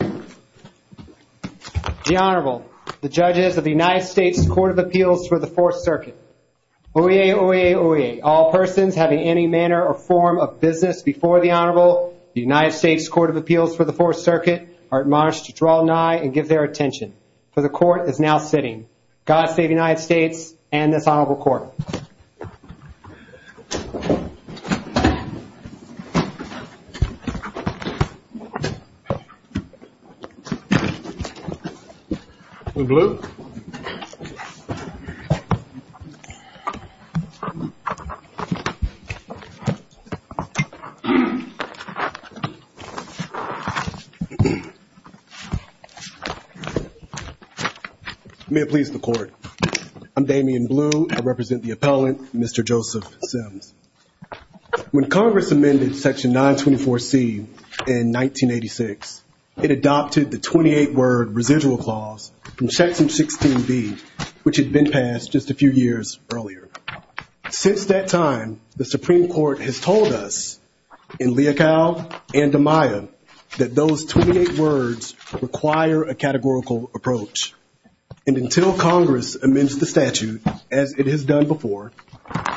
The Honorable, the judges of the United States Court of Appeals for the Fourth Circuit. Oyez, oyez, oyez. All persons having any manner or form of business before the Honorable, the United States Court of Appeals for the Fourth Circuit, are admonished to draw nigh and give their attention. For the Court is now sitting. God save the United States and this Honorable Court. When Blue. May it please the Court. I'm Damian Blue. I represent the appellant, Mr. Joseph Simms. When Congress amended Section 924C in 1986, it adopted the 28-word residual clause from Section 16B, which had been passed just a few years earlier. Since that time, the Supreme Court has told us in Leocal and Amaya that those 28 words require a categorical approach. And until Congress amends the statute, as it has done before,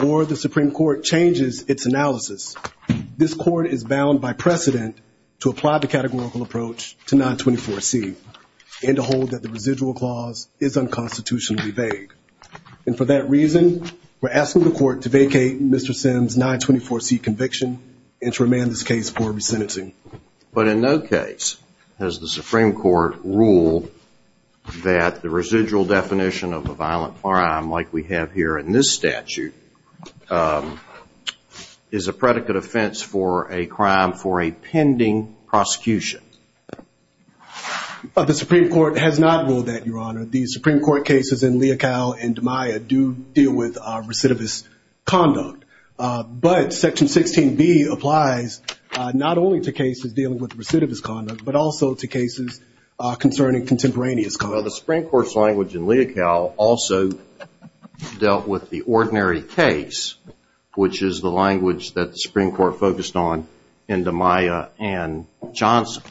or the Supreme Court changes its analysis, this Court is bound by precedent to apply the categorical approach to 924C and to hold that the residual clause is unconstitutionally vague. And for that reason, we're asking the Court to vacate Mr. Simms' 924C conviction and to remand this case for resentment. But in no case has the Supreme Court ruled that the residual definition of a violent crime, like we have here in this statute, is a predicate offense for a crime for a pending prosecution. The Supreme Court has not ruled that, Your Honor. The Supreme Court cases in Leocal and Amaya do deal with recidivist conduct. But Section 16B applies not only to cases dealing with recidivist conduct, but also to cases concerning contemporaneous conduct. The Supreme Court's language in Leocal also dealt with the ordinary case, which is the language that the Supreme Court focused on in Amaya and Johnson.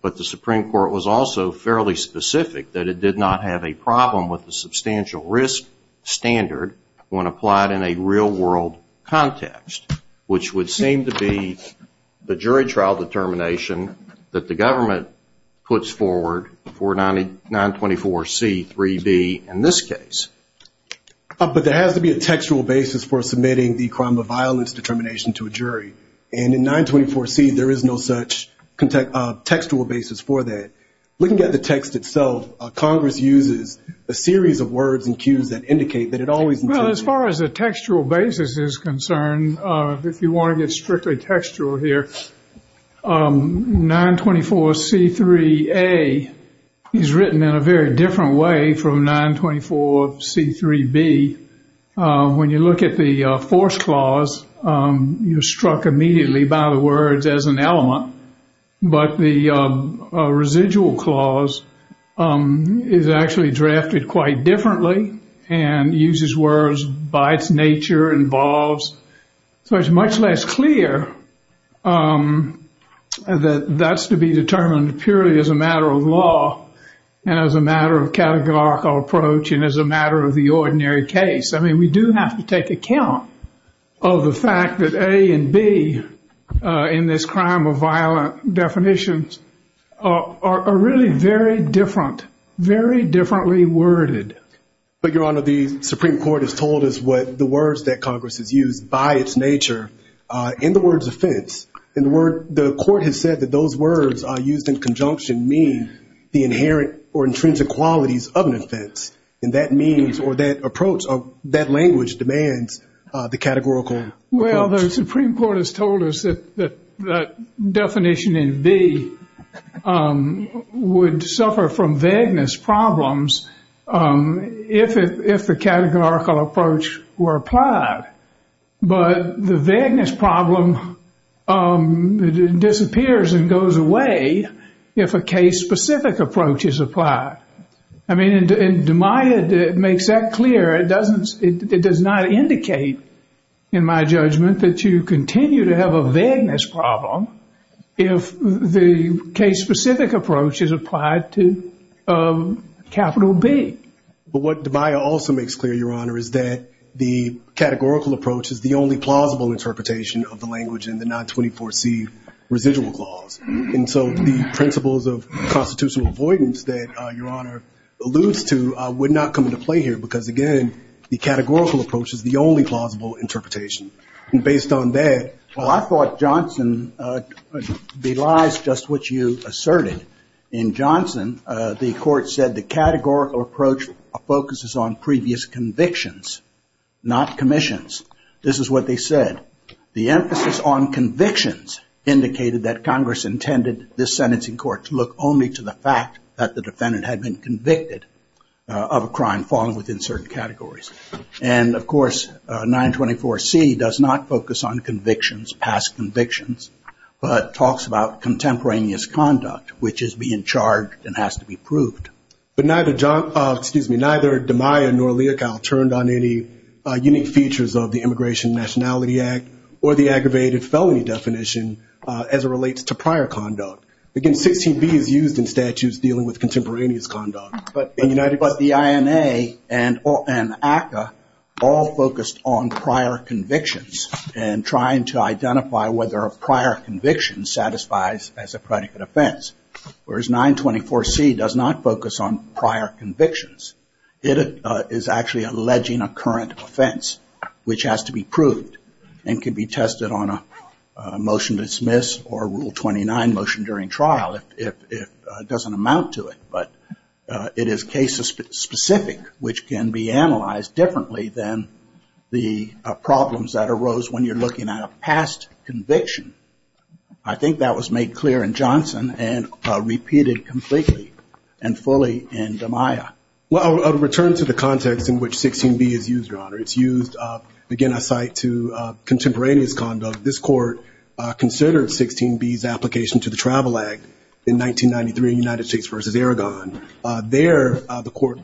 But the Supreme Court was also fairly specific that it did not have a problem with the substantial risk standard when applied in a real-world context, which would seem to be the jury trial determination that the government puts forward for 924C 3D in this case. But there has to be a textual basis for submitting the crime of violence determination to a jury. And in 924C, there is no such textual basis for that. Looking at the text itself, Congress uses a series of words and cues that indicate that it always… When you look at the force clause, you're struck immediately by the words as an element. But the residual clause is actually drafted quite differently and uses words by its nature, involves. So it's much less clear that that's to be determined purely as a matter of law and as a matter of categorical approach and as a matter of the ordinary case. I mean, we do have to take account of the fact that A and B in this crime of violent definitions are really very different, very differently worded. But, Your Honor, the Supreme Court has told us what the words that Congress has used by its nature in the words offense. And the court has said that those words used in conjunction means the inherent or intrinsic qualities of an offense. And that means or that approach or that language demands the categorical approach. If the categorical approach were applied, but the vagueness problem disappears and goes away if a case-specific approach is applied. I mean, it makes that clear. It does not indicate, in my judgment, that you continue to have a vagueness problem if the case-specific approach is applied to capital B. But what DeMaia also makes clear, Your Honor, is that the categorical approach is the only plausible interpretation of the language in the 924C residual clause. And so the principles of constitutional avoidance that Your Honor alludes to would not come into play here because, again, the categorical approach is the only plausible interpretation. And based on that. Well, I thought Johnson belies just what you asserted. In Johnson, the court said the categorical approach focuses on previous convictions, not commissions. This is what they said. The emphasis on convictions indicated that Congress intended this sentencing court to look only to the fact that the defendant had been convicted of a crime falling within certain categories. And, of course, 924C does not focus on convictions, past convictions, but talks about contemporaneous conduct, which is being charged and has to be proved. But neither DeMaia nor Leocal turned on any unique features of the Immigration and Nationality Act or the aggravated felony definition as it relates to prior conduct. Again, 15B is used in statutes dealing with contemporaneous conduct. But the INA and ACCA all focused on prior convictions and trying to identify whether a prior conviction satisfies as a predicate offense. Whereas 924C does not focus on prior convictions. It is actually alleging a current offense, which has to be proved and can be tested on a motion to dismiss or Rule 29 motion during trial. It doesn't amount to it, but it is case-specific, which can be analyzed differently than the problems that arose when you're looking at a past conviction. I think that was made clear in Johnson and repeated completely and fully in DeMaia. Well, I'll return to the context in which 16B is used, Your Honor. It's used, again, I cite, to contemporaneous conduct. This Court considered 16B's application to the Travel Act in 1993 in United States v. Aragon. There, the Court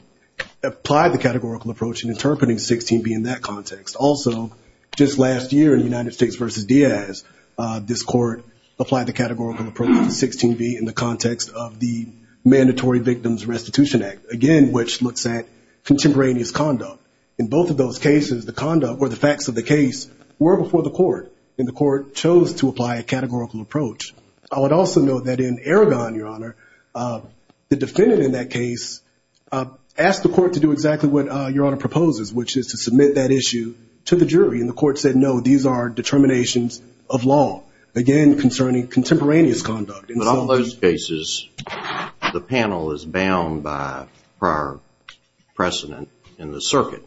applied the categorical approach in interpreting 16B in that context. Also, just last year in United States v. Diaz, this Court applied the categorical approach to 16B in the context of the Mandatory Victims Restitution Act, again, which looks at contemporaneous conduct. In both of those cases, the conduct or the facts of the case were before the Court, and the Court chose to apply a categorical approach. I would also note that in Aragon, Your Honor, the defendant in that case asked the Court to do exactly what Your Honor proposes, which is to submit that issue to the jury. And the Court said, no, these are determinations of law, again, concerning contemporaneous conduct. In all those cases, the panel is bound by prior precedent in the circuit.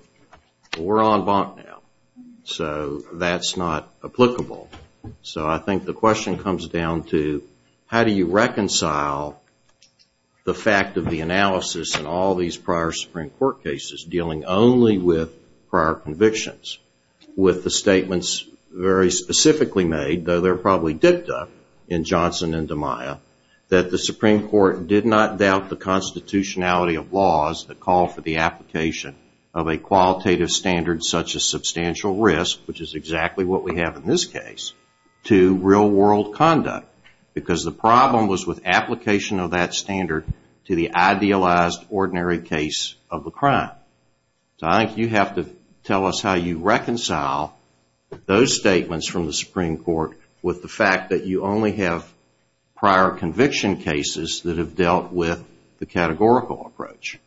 We're en banc now, so that's not applicable. So I think the question comes down to how do you reconcile the fact of the analysis in all these prior Supreme Court cases, dealing only with prior convictions, with the statements very specifically made, though they're probably dipped up in Johnson and DiMaio, that the Supreme Court did not doubt the constitutionality of laws that call for the application of a qualitative standard such as substantial risk, which is exactly what we have in this case, to real-world conduct, because the problem was with application of that standard to the idealized, ordinary case of the crime. So I think you have to tell us how you reconcile those statements from the Supreme Court with the fact that you only have prior conviction cases that have dealt with the categorical approach.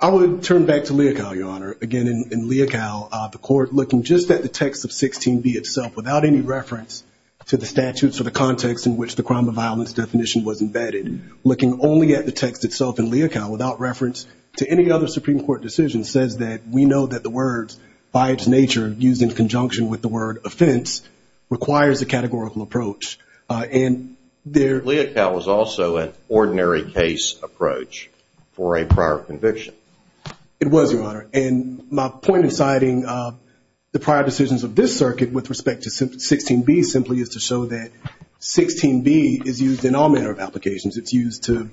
I would turn back to Leocal, Your Honor. Again, in Leocal, the Court, looking just at the text of 16b itself, without any reference to the statutes or the context in which the crime of violence definition was embedded, looking only at the text itself in Leocal, without reference to any other Supreme Court decision, says that we know that the words, by its nature, used in conjunction with the word offense, requires the categorical approach. Leocal was also an ordinary case approach for a prior conviction. It was, Your Honor. And my point in citing the prior decisions of this circuit with respect to 16b simply is to show that 16b is used in all manner of applications. It's used to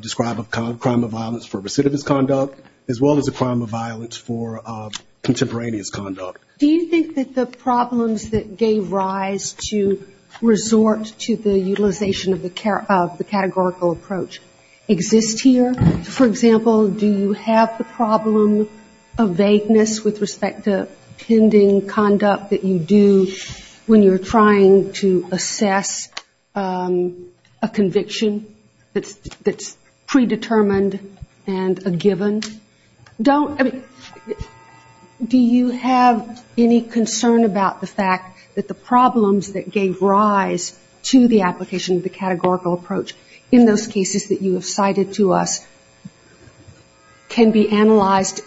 describe a crime of violence for recidivist conduct, as well as a crime of violence for contemporaneous conduct. Do you think that the problems that gave rise to resort to the utilization of the categorical approach exist here? For example, do you have the problem of vagueness with respect to pending conduct that you do when you're trying to assess a conviction that's predetermined and a given? Do you have any concern about the fact that the problems that gave rise to the application of the categorical approach in those cases that you have cited to us can be analyzed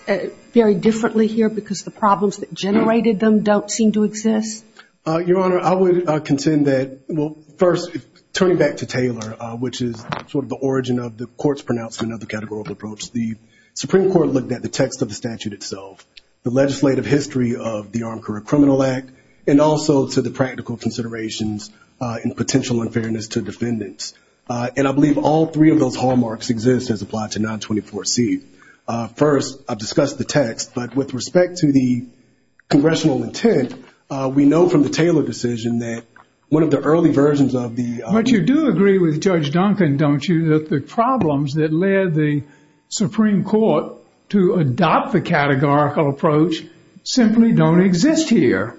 very differently here because the problems that generated them don't seem to exist? Your Honor, I would contend that, well, first, turning back to Taylor, which is sort of the origin of the court's pronouncement of the categorical approach, the Supreme Court looked at the text of the statute itself, the legislative history of the Armed Career Criminal Act, and also to the practical considerations and potential unfairness to defendants. And I believe all three of those hallmarks exist as applied to 924C. First, I've discussed the text, but with respect to the congressional intent, we know from the Taylor decision that one of the early versions of the— to adopt the categorical approach simply don't exist here.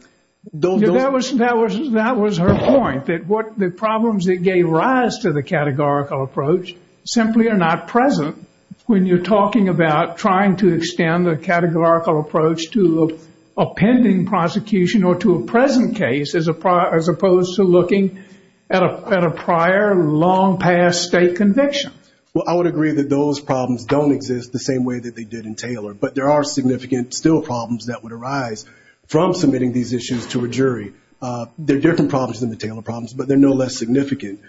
That was her point, that the problems that gave rise to the categorical approach simply are not present when you're talking about trying to extend the categorical approach to a pending prosecution or to a present case as opposed to looking at a prior, long-past state conviction. Well, I would agree that those problems don't exist the same way that they did in Taylor, but there are significant still problems that would arise from submitting these issues to a jury. They're different problems than the Taylor problems, but they're no less significant.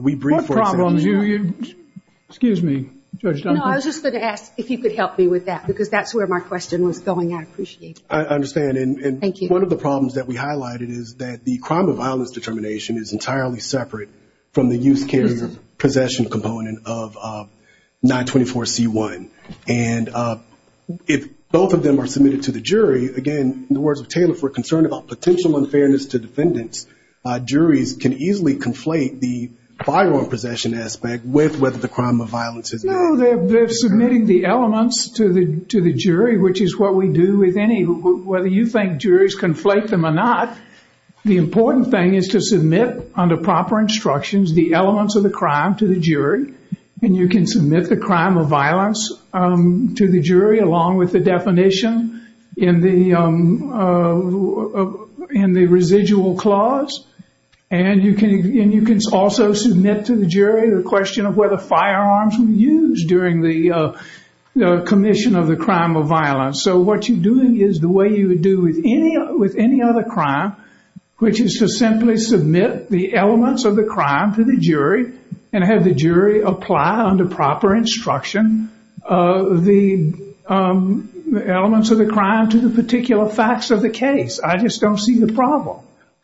We bring forth— One problem—excuse me, Judge Dunford. No, I was just going to ask if you could help me with that because that's where my question was going. I appreciate it. I understand. Thank you. I think one of the problems that we highlighted is that the crime of violence determination is entirely separate from the youth carrier possession component of 924C1. And if both of them are submitted to the jury, again, in the words of Taylor, for concern about potential unfairness to defendants, juries can easily conflate the firearm possession aspect with whether the crime of violence is— They're submitting the elements to the jury, which is what we do with any— Whether you conflate them or not, the important thing is to submit, under proper instructions, the elements of the crime to the jury, and you can submit the crime of violence to the jury, along with the definition in the residual clause. And you can also submit to the jury the question of whether firearms were used during the commission of the crime of violence. So what you're doing is the way you would do with any other crime, which is to simply submit the elements of the crime to the jury and have the jury apply under proper instruction the elements of the crime to the particular facts of the case. I just don't see the problem.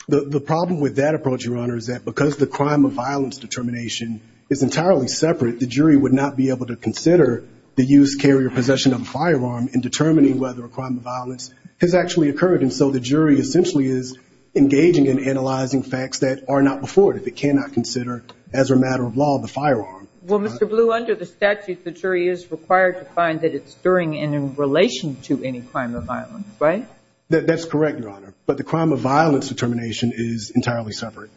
The problem with that approach, Your Honor, is that because the crime of violence determination is entirely separate, the jury would not be able to consider the use, carry, or possession of a firearm in determining whether a crime of violence has actually occurred. And so the jury essentially is engaging in analyzing facts that are not before it. It cannot consider, as a matter of law, the firearm. Well, Mr. Blue, under the statute, the jury is required to find that it's during and in relation to any crime of violence, right? That's correct, Your Honor. But the crime of violence determination is entirely separate.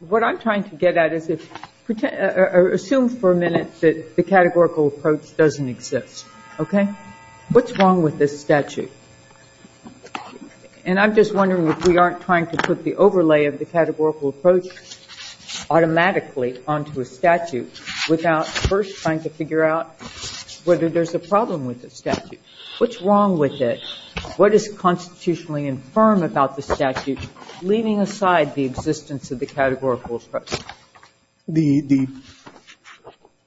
What I'm trying to get at is assume for a minute that the categorical approach doesn't exist, okay? What's wrong with this statute? And I'm just wondering if we aren't trying to put the overlay of the categorical approach automatically onto a statute without first trying to figure out whether there's a problem with the statute. What's wrong with it? What is constitutionally infirm about the statute, leaving aside the existence of the categorical approach?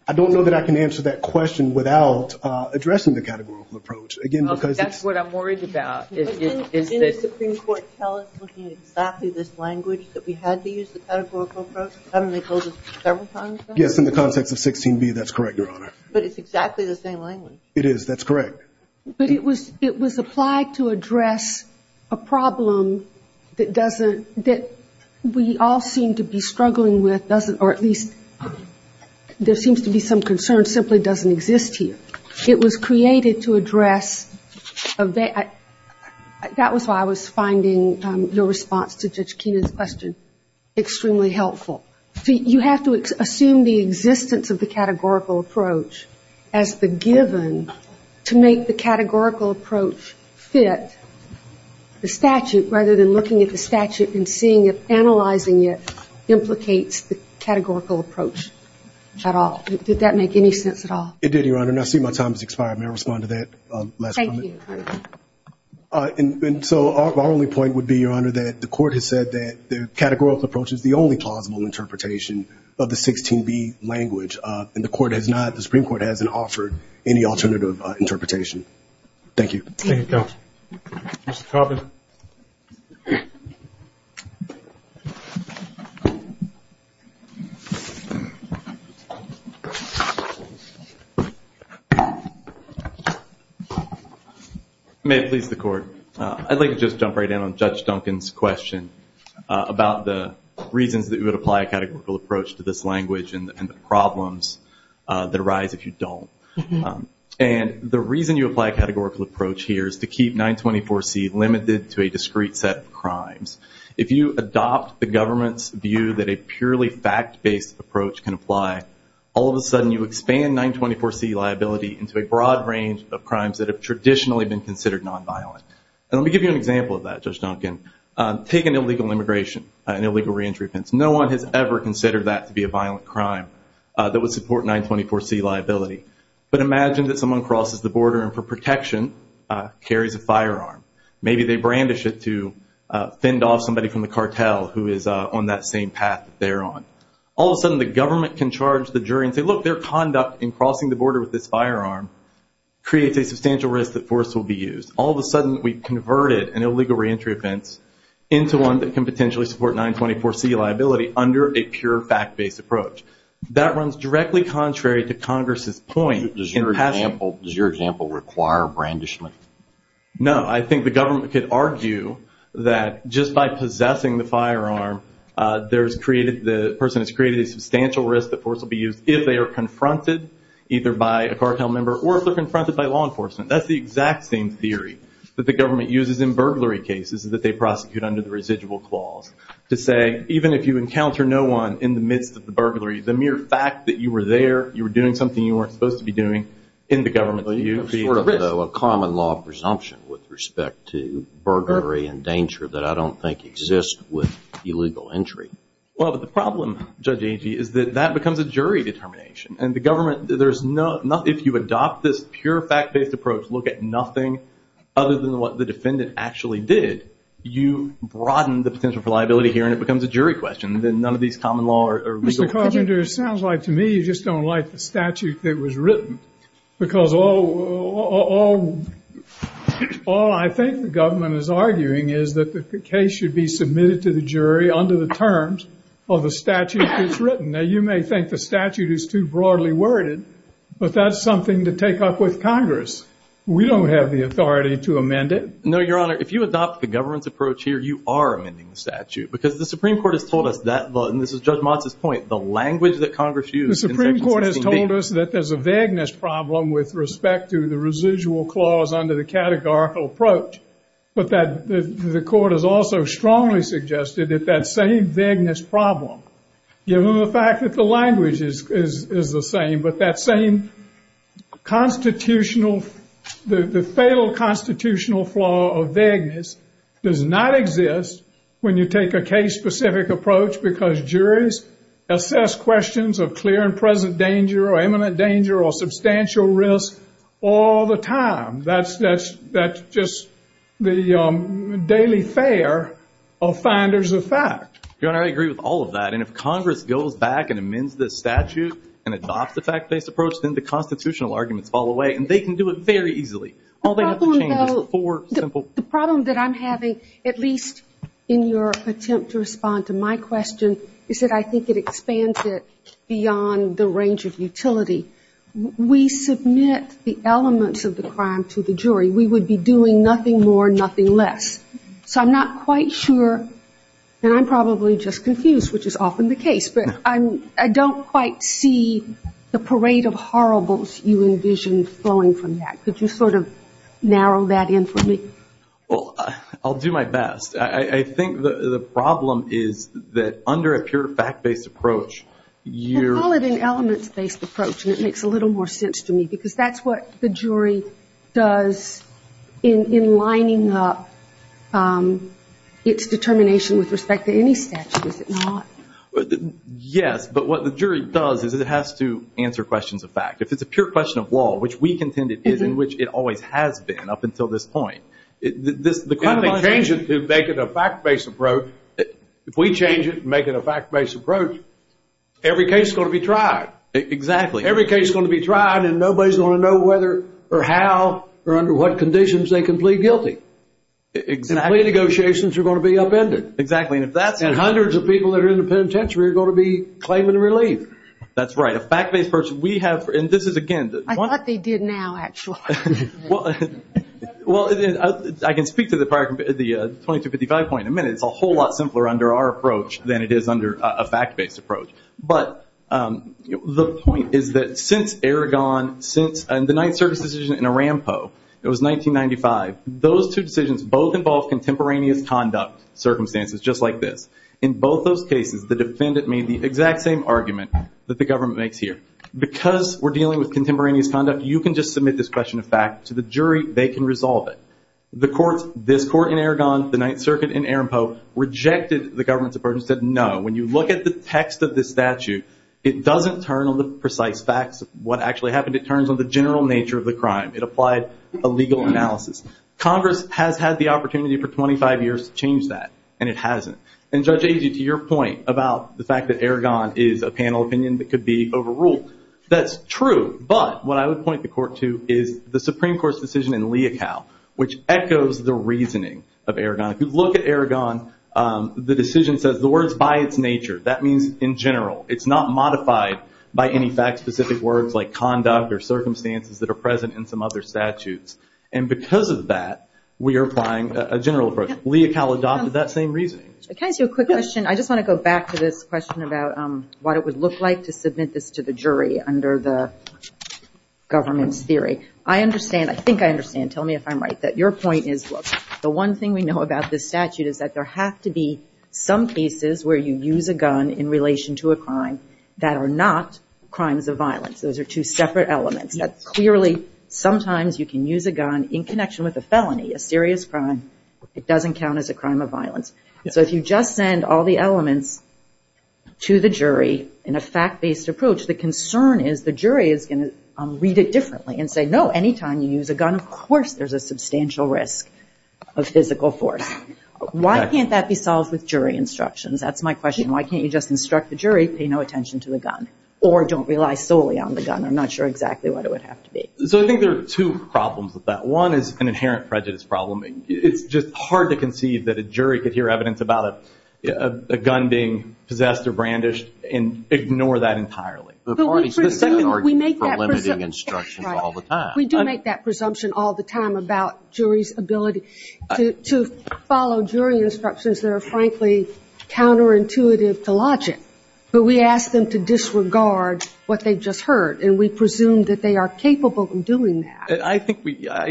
I don't know that I can answer that question without addressing the categorical approach. That's what I'm worried about. Didn't the Supreme Court tell us, looking at exactly this language, that we had to use the categorical approach? I mean, they told us several times, right? Yes, in the context of 16b, that's correct, Your Honor. But it's exactly the same language. It is, that's correct. But it was applied to address a problem that we all seem to be struggling with, or at least there seems to be some concern that simply doesn't exist here. It was created to address that. That was why I was finding your response to Judge Keenan's question extremely helpful. See, you have to assume the existence of the categorical approach as the given to make the categorical approach fit the statute, rather than looking at the statute and seeing it, analyzing it, implicates the categorical approach at all. Did that make any sense at all? It did, Your Honor, and I see my time has expired. May I respond to that last comment? Thank you. And so our only point would be, Your Honor, that the court has said that the categorical approach is the only plausible interpretation of the 16b language, and the Supreme Court has not offered any alternative interpretation. Thank you. Thank you, counsel. Mr. Coburn? May it please the Court. I'd like to just jump right in on Judge Duncan's question about the reasons that you would apply a categorical approach to this language and the problems that arise if you don't. And the reason you apply a categorical approach here is to keep 924C limited to a discrete set of crimes. If you adopt the government's view that a purely fact-based approach can apply, all of a sudden you expand 924C liability into a broad range of crimes that have traditionally been considered nonviolent. And let me give you an example of that, Judge Duncan. Take an illegal immigration, an illegal reentry offense. No one has ever considered that to be a violent crime that would support 924C liability. But imagine that someone crosses the border and for protection carries a firearm. Maybe they brandish it to fend off somebody from the cartel who is on that same path that they're on. All of a sudden, the government can charge the jury and say, look, their conduct in crossing the border with this firearm creates a substantial risk that force will be used. All of a sudden, we've converted an illegal reentry offense into one that can potentially support 924C liability under a pure fact-based approach. That runs directly contrary to Congress's point. Does your example require brandishment? No, I think the government could argue that just by possessing the firearm, the person has created a substantial risk that force will be used if they are confronted, either by a cartel member or if they're confronted by law enforcement. That's the exact same theory that the government uses in burglary cases that they prosecute under the residual clause, to say even if you encounter no one in the midst of the burglary, the mere fact that you were there, you were doing something you weren't supposed to be doing, in the government's view, would be a risk. That's a law presumption with respect to burglary and danger that I don't think exists with illegal entry. Well, but the problem, Judge Agee, is that that becomes a jury determination. And the government, there's no, if you adopt this pure fact-based approach, look at nothing other than what the defendant actually did, you broaden the potential for liability here and it becomes a jury question. Then none of these common law or legal problems... Mr. Carpenter, it sounds like to me you just don't like the statute that was written. Because all I think the government is arguing is that the case should be submitted to the jury under the terms of the statute that was written. Now, you may think the statute is too broadly worded, but that's something to take up with Congress. We don't have the authority to amend it. No, Your Honor, if you adopt the government's approach here, you are amending the statute. Because the Supreme Court has told us that law, and this is Judge Mott's point, the language that Congress used... The Supreme Court has told us that there's a vagueness problem with respect to the residual clause under the categorical approach. But the court has also strongly suggested that that same vagueness problem, given the fact that the language is the same, but that same constitutional, the fatal constitutional flaw of vagueness does not exist when you take a case-specific approach because juries assess questions of clear and present danger or imminent danger or substantial risk all the time. That's just the daily fare of finders of fact. Your Honor, I agree with all of that. And if Congress goes back and amends the statute and adopts the fact-based approach, then the constitutional arguments fall away, and they can do it very easily. The problem that I'm having, at least in your attempt to respond to my question, is that I think it expands it beyond the range of utility. We submit the elements of the crime to the jury. We would be doing nothing more, nothing less. So I'm not quite sure, and I'm probably just confused, which is often the case, but I don't quite see the parade of horribles you envision flowing from that Could you sort of narrow that in for me? Well, I'll do my best. I think the problem is that under a pure fact-based approach, you're... You call it an elements-based approach, and it makes a little more sense to me because that's what the jury does in lining up its determination with respect to any statute, is it not? Yes, but what the jury does is it has to answer questions of fact. If it's a pure question of law, which we contend it is and which it always has been up until this point, the claimant... And they change it to make it a fact-based approach. If we change it and make it a fact-based approach, every case is going to be tried. Exactly. Every case is going to be tried, and nobody's going to know whether or how or under what conditions they can plead guilty. Exactly. The plea negotiations are going to be upended. Exactly. And hundreds of people that are in the penitentiary are going to be claiming relief. That's right. A fact-based approach we have... And this is, again... I thought they did now, actually. Well, I can speak to the 2255 point in a minute. It's a whole lot simpler under our approach than it is under a fact-based approach. But the point is that since Eragon, since the Ninth Circuit decision in Aramco, it was 1995, those two decisions both involved contemporaneous conduct circumstances just like this. In both those cases, the defendant made the exact same argument that the government makes here. Because we're dealing with contemporaneous conduct, you can just submit this question of facts to the jury. They can resolve it. This court in Eragon, the Ninth Circuit in Aramco, rejected the government's approach and said no. When you look at the text of this statute, it doesn't turn on the precise facts of what actually happened. It turns on the general nature of the crime. It applied a legal analysis. Congress has had the opportunity for 25 years to change that, and it hasn't. And Judge Agee, to your point about the fact that Eragon is a panel opinion that could be overruled, that's true, but what I would point the court to is the Supreme Court's decision in Leocal, which echoes the reasoning of Eragon. If you look at Eragon, the decision says the word is by its nature. That means in general. It's not modified by any fact-specific words like conduct or circumstances that are present in some other statutes. And because of that, we are applying a general approach. Leocal adopted that same reasoning. Can I ask you a quick question? I just want to go back to this question about what it would look like to submit this to the jury under the government's theory. I understand, I think I understand, tell me if I'm right, that your point is, look, the one thing we know about this statute is that there have to be some cases where you use a gun in relation to a crime that are not crimes of violence. Those are two separate elements. Clearly, sometimes you can use a gun in connection with a felony, a serious crime. It doesn't count as a crime of violence. So if you just send all the elements to the jury in a fact-based approach, the concern is the jury is going to read it differently and say, no, anytime you use a gun, of course there's a substantial risk of physical force. Why can't that be solved with jury instructions? That's my question. Why can't you just instruct the jury, pay no attention to the gun or don't rely solely on the gun? I'm not sure exactly what it would have to be. So I think there are two problems with that. One is an inherent prejudice problem. It's just hard to conceive that a jury could hear evidence about a gun being possessed or brandished and ignore that entirely. But we make that presumption all the time. We do make that presumption all the time about jury's ability to follow jury instructions that are, frankly, counterintuitive to logic. But we ask them to disregard what they just heard, and we presume that they are capable of doing that. I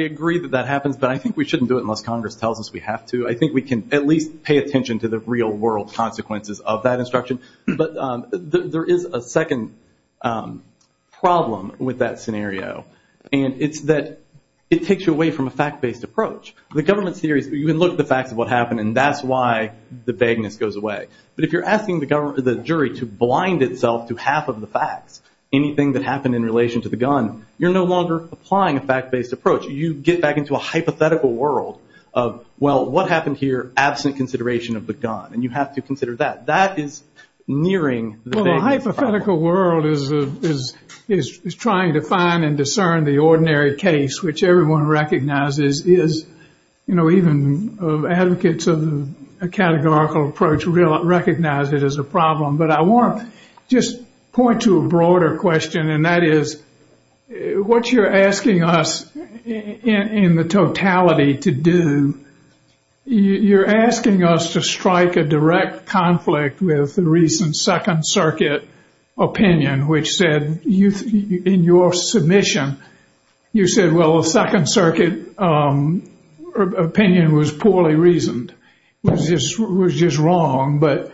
agree that that happens, but I think we shouldn't do it unless Congress tells us we have to. I think we can at least pay attention to the real-world consequences of that instruction. But there is a second problem with that scenario, and it's that it takes you away from a fact-based approach. The government theory is you look at the fact of what happened, and that's why the vagueness goes away. But if you're asking the jury to blind itself to half of the facts, anything that happened in relation to the gun, you're no longer applying a fact-based approach. You get back into a hypothetical world of, well, what happened here absent consideration of the gun, and you have to consider that. That is nearing the vagueness. Well, the hypothetical world is trying to find and discern the ordinary case, which everyone recognizes is, you know, even advocates of a categorical approach recognize it as a problem. But I want to just point to a broader question, and that is what you're asking us in the totality to do, you're asking us to strike a direct conflict with the recent Second Circuit opinion, which said in your submission, you said, well, the Second Circuit opinion was poorly reasoned, was just wrong. But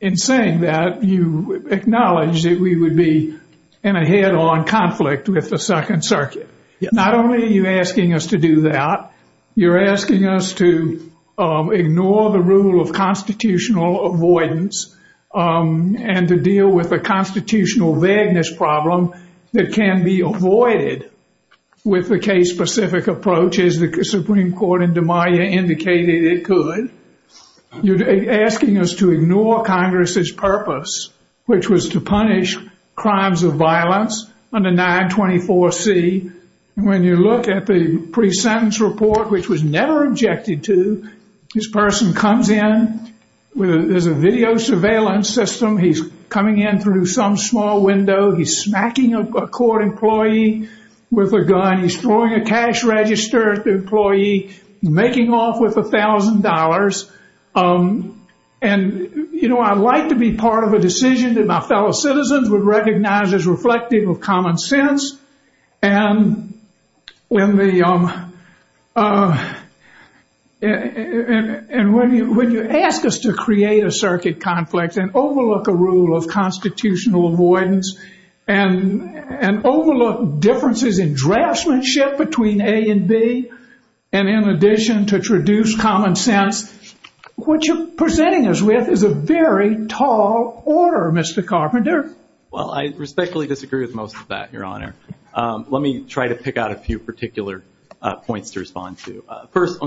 in saying that, you acknowledged that we would be in a head-on conflict with the Second Circuit. Not only are you asking us to do that, you're asking us to ignore the rule of constitutional avoidance and to deal with the constitutional vagueness problem that can be avoided with the case-specific approach, as the Supreme Court in Des Moines indicated it could. You're asking us to ignore Congress's purpose, which was to punish crimes of violence under 924C. When you look at the pre-sentence report, which was never objected to, this person comes in. There's a video surveillance system. He's coming in through some small window. He's smacking a court employee with a gun. He's throwing a cash register at the employee, making off with $1,000. And, you know, I'd like to be part of a decision that my fellow citizens would recognize as reflective of common sense. And when you ask us to create a circuit conflict and overlook a rule of constitutional avoidance and overlook differences in draftsmanship between A and B, and in addition to reduce common sense, what you're presenting us with is a very tall order, Mr. Carpenter. Well, I respectfully disagree with most of that, Your Honor. Let me try to pick out a few particular points to respond to. First,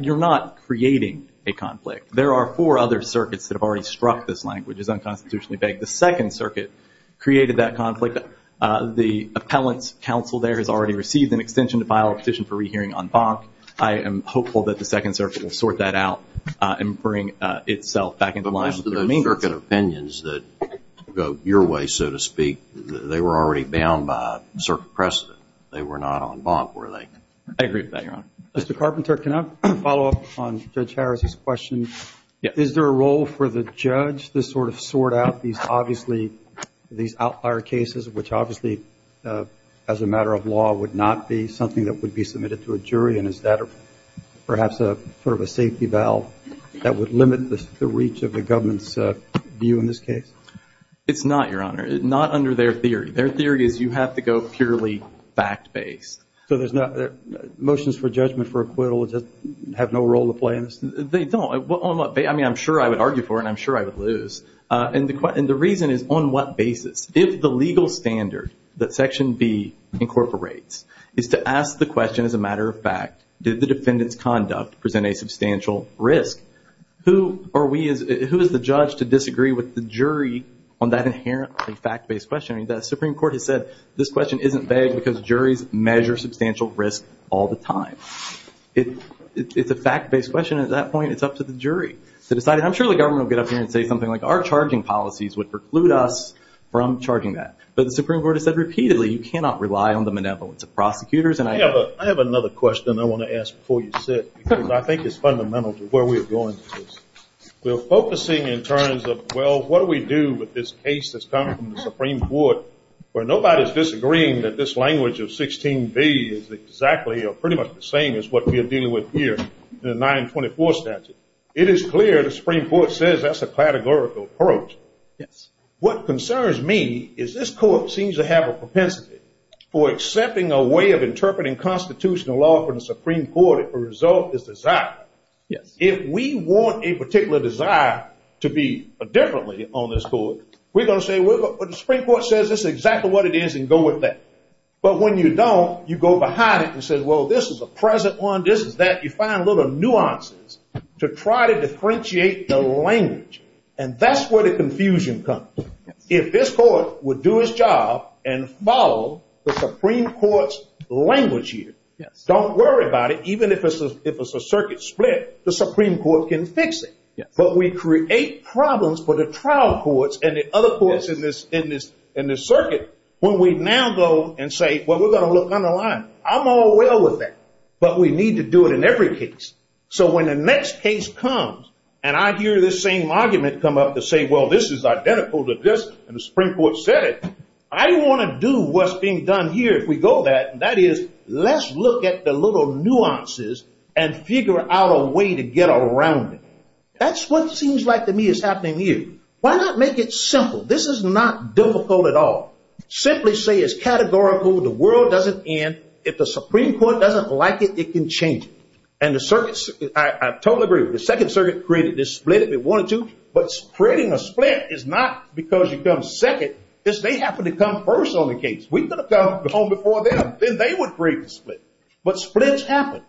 you're not creating a conflict. There are four other circuits that have already struck this language as unconstitutionally vague. The Second Circuit created that conflict. The appellant counsel there has already received an extension to file a petition for rehearing en banc. I am hopeful that the Second Circuit will sort that out and bring itself back into line. But most of those circuit opinions that go your way, so to speak, they were already bound by circuit precedent. They were not en banc, were they? I agree with that, Your Honor. Mr. Carpenter, can I follow up on Judge Harris's question? Is there a role for the judge to sort out these outlier cases, which obviously as a matter of law would not be something that would be submitted to a jury, and is that perhaps sort of a safety valve that would limit the reach of the government's view in this case? It's not, Your Honor. It's not under their theory. Their theory is you have to go purely fact-based. So motions for judgment for acquittal have no role to play in this? They don't. I mean, I'm sure I would argue for it, and I'm sure I would lose. And the reason is on what basis? If the legal standard that Section B incorporates is to ask the question as a matter of fact, did the defendant's conduct present a substantial risk, who is the judge to disagree with the jury on that inherent fact-based question? The Supreme Court has said this question isn't vague because juries measure substantial risk all the time. It's a fact-based question at that point. It's up to the jury to decide. And I'm sure the government will get up here and say something like, our charging policies would preclude us from charging that. But the Supreme Court has said repeatedly you cannot rely on the benevolence of prosecutors. I have another question I want to ask before you sit, because I think it's fundamental to where we're going with this. We're focusing in terms of, well, what do we do with this case that's come from the Supreme Court where nobody's disagreeing that this language of 16B is exactly or pretty much the same as what we're dealing with here in the 924 statute? It is clear the Supreme Court says that's a categorical approach. What concerns me is this court seems to have a propensity for accepting a way of interpreting constitutional law from the Supreme Court if the result is desired. If we want a particular desire to be differently on this court, we're going to say, well, the Supreme Court says this is exactly what it is and go with that. But when you don't, you go behind it and say, well, this is a present one, this is that. You find little nuances to try to differentiate the language. And that's where the confusion comes. If this court would do its job and follow the Supreme Court's language here, don't worry about it, because if it's a circuit split, the Supreme Court can fix it. But we create problems for the trial courts and the other courts in this circuit when we now go and say, well, we're going to look underlined. I'm all well with that. But we need to do it in every case. So when the next case comes and I hear this same argument come up to say, well, this is identical to this and the Supreme Court said it, I want to do what's being done here. If we go that, that is, let's look at the little nuances and figure out a way to get around it. That's what seems like to me is happening here. Why not make it simple? This is not difficult at all. Simply say it's categorical, the world doesn't end, if the Supreme Court doesn't like it, it can change it. And the circuits, I totally agree, the second circuit created this split if it wanted to, but creating a split is not because you come second. This may happen to come first on the case. We could have come before them, then they would create the split. But splits happen.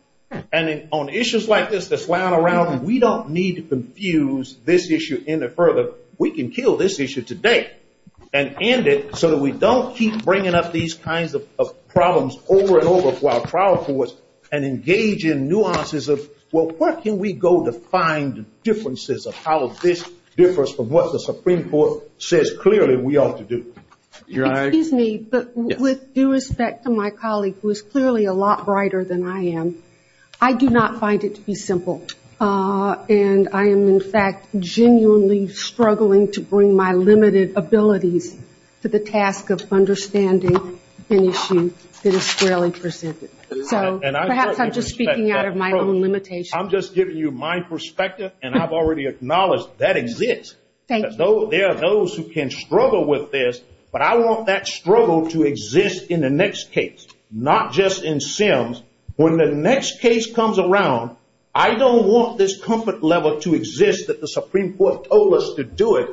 And on issues like this that's lying around, we don't need to confuse this issue any further. We can kill this issue today and end it so that we don't keep bringing up these kinds of problems over and over to our trial courts and engage in nuances of, well, where can we go to find differences of how this differs from what the Supreme Court says clearly we ought to do? Excuse me, but with due respect to my colleague who is clearly a lot brighter than I am, I do not find it to be simple. And I am, in fact, genuinely struggling to bring my limited ability to the task of understanding an issue that is fairly persistent. So perhaps I'm just speaking out of my own limitation. I'm just giving you my perspective, and I've already acknowledged that exists. Thank you. There are those who can struggle with this, but I want that struggle to exist in the next case, not just in Sims. When the next case comes around, I don't want this comfort level to exist that the Supreme Court told us to do it.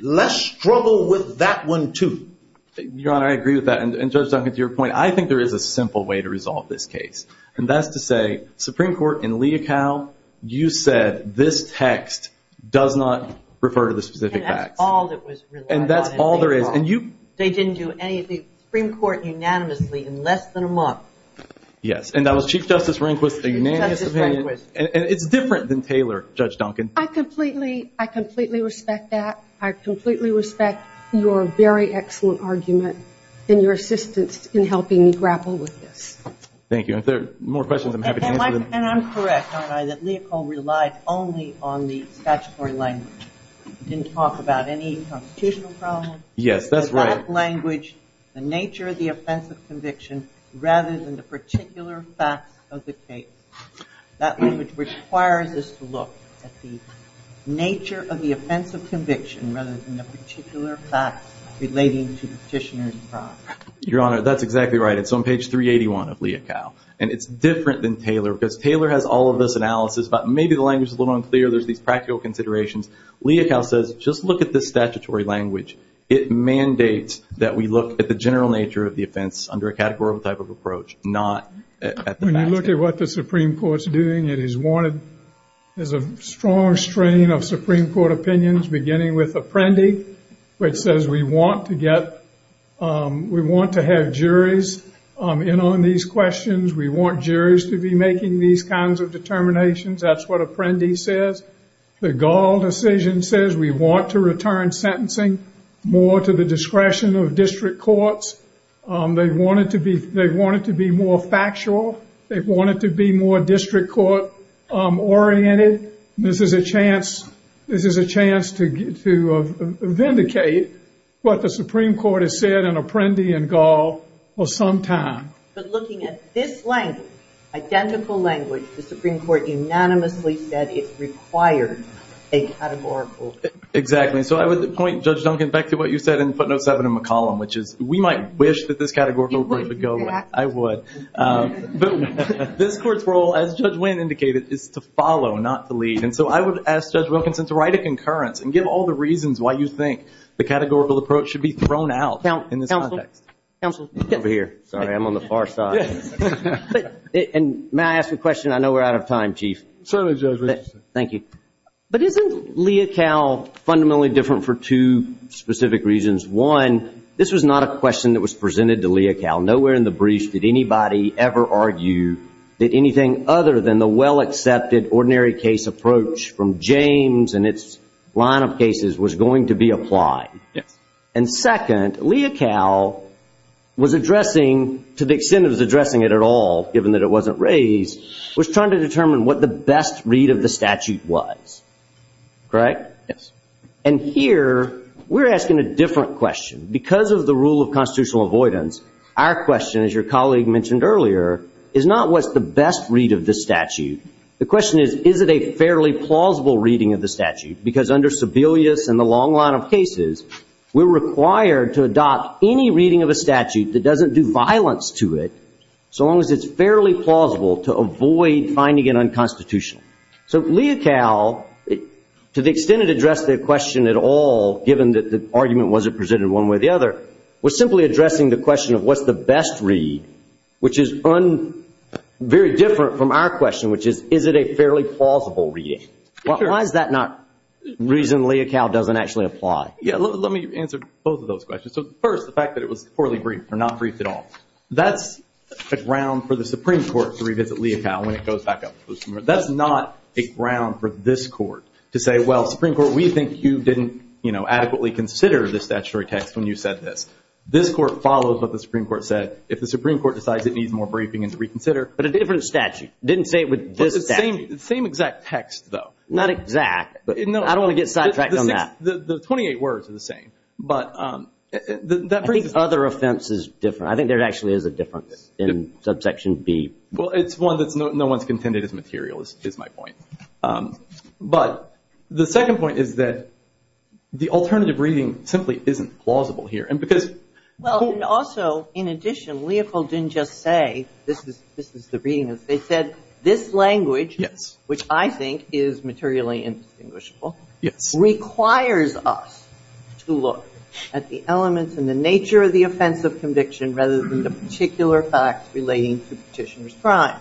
Let's struggle with that one, too. Your Honor, I agree with that. And, Judge Duncan, to your point, I think there is a simple way to resolve this case. And that's to say, Supreme Court, in Lee et al., you said this text does not refer to the specific facts. And that's all that was related. And that's all there is. They didn't do anything, the Supreme Court unanimously, in less than a month. Yes, and that was Chief Justice Rehnquist, the unanimous opinion. Chief Justice Rehnquist. And it's different than Taylor, Judge Duncan. I completely respect that. I completely respect your very excellent argument and your assistance in helping me grapple with this. Thank you. If there are more questions, I'm happy to answer them. And I'm correct, Your Honor, that Lee et al. relied only on the statutory language. It didn't talk about any constitutional problems. Yes, that's right. But that language, the nature of the offense of conviction, rather than the particular facts of the case. That language requires us to look at the nature of the offense of conviction rather than the particular facts relating to the petitioner's file. Your Honor, that's exactly right. It's on page 381 of Lee et al. And it's different than Taylor because Taylor has all of this analysis, but maybe the language is a little unclear. There's these practical considerations. Lee et al. says, just look at this statutory language. It mandates that we look at the general nature of the offense under a categorical type of approach, not at the facts. When you look at what the Supreme Court's doing, it is a strong strain of Supreme Court opinions, beginning with Apprendi, which says we want to have juries in on these questions. We want juries to be making these kinds of determinations. That's what Apprendi says. The Gall decision says we want to return sentencing more to the discretion of district courts. They want it to be more factual. They want it to be more district court oriented. This is a chance to vindicate what the Supreme Court has said in Apprendi and Gall for some time. But looking at this language, identical language, the Supreme Court unanimously said it requires a categorical approach. Exactly. So I would point Judge Duncan back to what you said in footnotes 7 in McCollum, which is we might wish that this categorical approach would go away. I would. This court's role, as Judge Wayne indicated, is to follow, not to lead. And so I would ask Judge Wilkinson to write a concurrence and give all the reasons why you think the categorical approach should be thrown out in this context. Counsel. Over here. Sorry, I'm on the far side. And may I ask a question? I know we're out of time, Chief. Certainly, Judge Wilkinson. Thank you. But isn't Leocal fundamentally different for two specific reasons? One, this was not a question that was presented to Leocal. Nowhere in the brief did anybody ever argue that anything other than the well-accepted ordinary case approach from James and its line of cases was going to be applied. And second, Leocal was addressing, to the extent it was addressing it at all, given that it wasn't raised, was trying to determine what the best read of the statute was. Correct? Yes. And here, we're asking a different question. Because of the rule of constitutional avoidance, our question, as your colleague mentioned earlier, is not what's the best read of the statute. The question is, is it a fairly plausible reading of the statute? Because under Sebelius and the long line of cases, we're required to adopt any reading of a statute that doesn't do violence to it so long as it's fairly plausible to avoid finding it unconstitutional. So Leocal, to the extent it addressed the question at all, given that the argument wasn't presented one way or the other, was simply addressing the question of what's the best read, which is very different from our question, which is, is it a fairly plausible reading? Why is that not a reason Leocal doesn't actually apply? Yeah, let me answer both of those questions. So first, the fact that it was poorly briefed or not briefed at all. That's a ground for the Supreme Court to revisit Leocal when it goes back up to the Supreme Court. That's not a ground for this court to say, well, Supreme Court, we think you didn't adequately consider the statutory text when you said this. This court follows what the Supreme Court said. If the Supreme Court decides it needs more briefing and to reconsider. But a different statute. Didn't say it was this statute. Same exact text, though. Not exact. I don't want to get sidetracked on that. The 28 words are the same. Every other offense is different. I think there actually is a difference in subsection B. Well, it's one that no one's contended is material, is my point. But the second point is that the alternative reading simply isn't plausible here. Also, in addition, Leocal didn't just say, this is the reading. They said, this language, which I think is materially indistinguishable, requires us to look at the elements and the nature of the offense of conviction rather than the particular facts relating to petitioner's crime.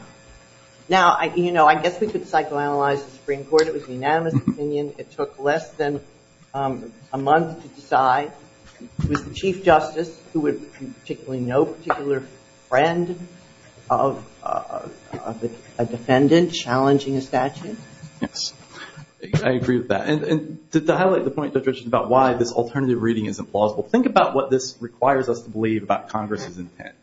Now, I guess we could psychoanalyze the Supreme Court. It was an unanimous opinion. It took less than a month to decide. It was the Chief Justice who was particularly no particular friend of a defendant challenging a statute. Yes. I agree with that. And to highlight the point, Patricia, about why this alternative reading isn't plausible, think about what this requires us to believe about Congress's intent.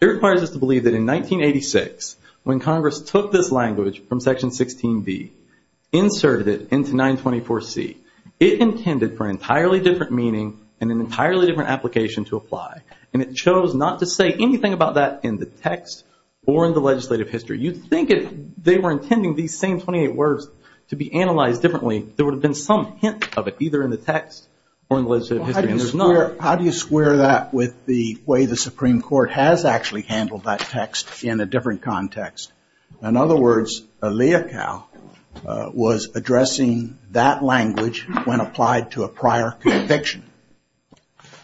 It requires us to believe that in 1986, when Congress took this language from Section 16B, inserted it into 924C, it intended for an entirely different meaning and an entirely different application to apply. And it chose not to say anything about that in the text or in the legislative history. You'd think if they were intending these same 28 words to be analyzed differently, there would have been some hint of it, either in the text or in the legislative history. How do you square that with the way the Supreme Court has actually handled that text in a different context? In other words, Leachow was addressing that language when applied to a prior conviction.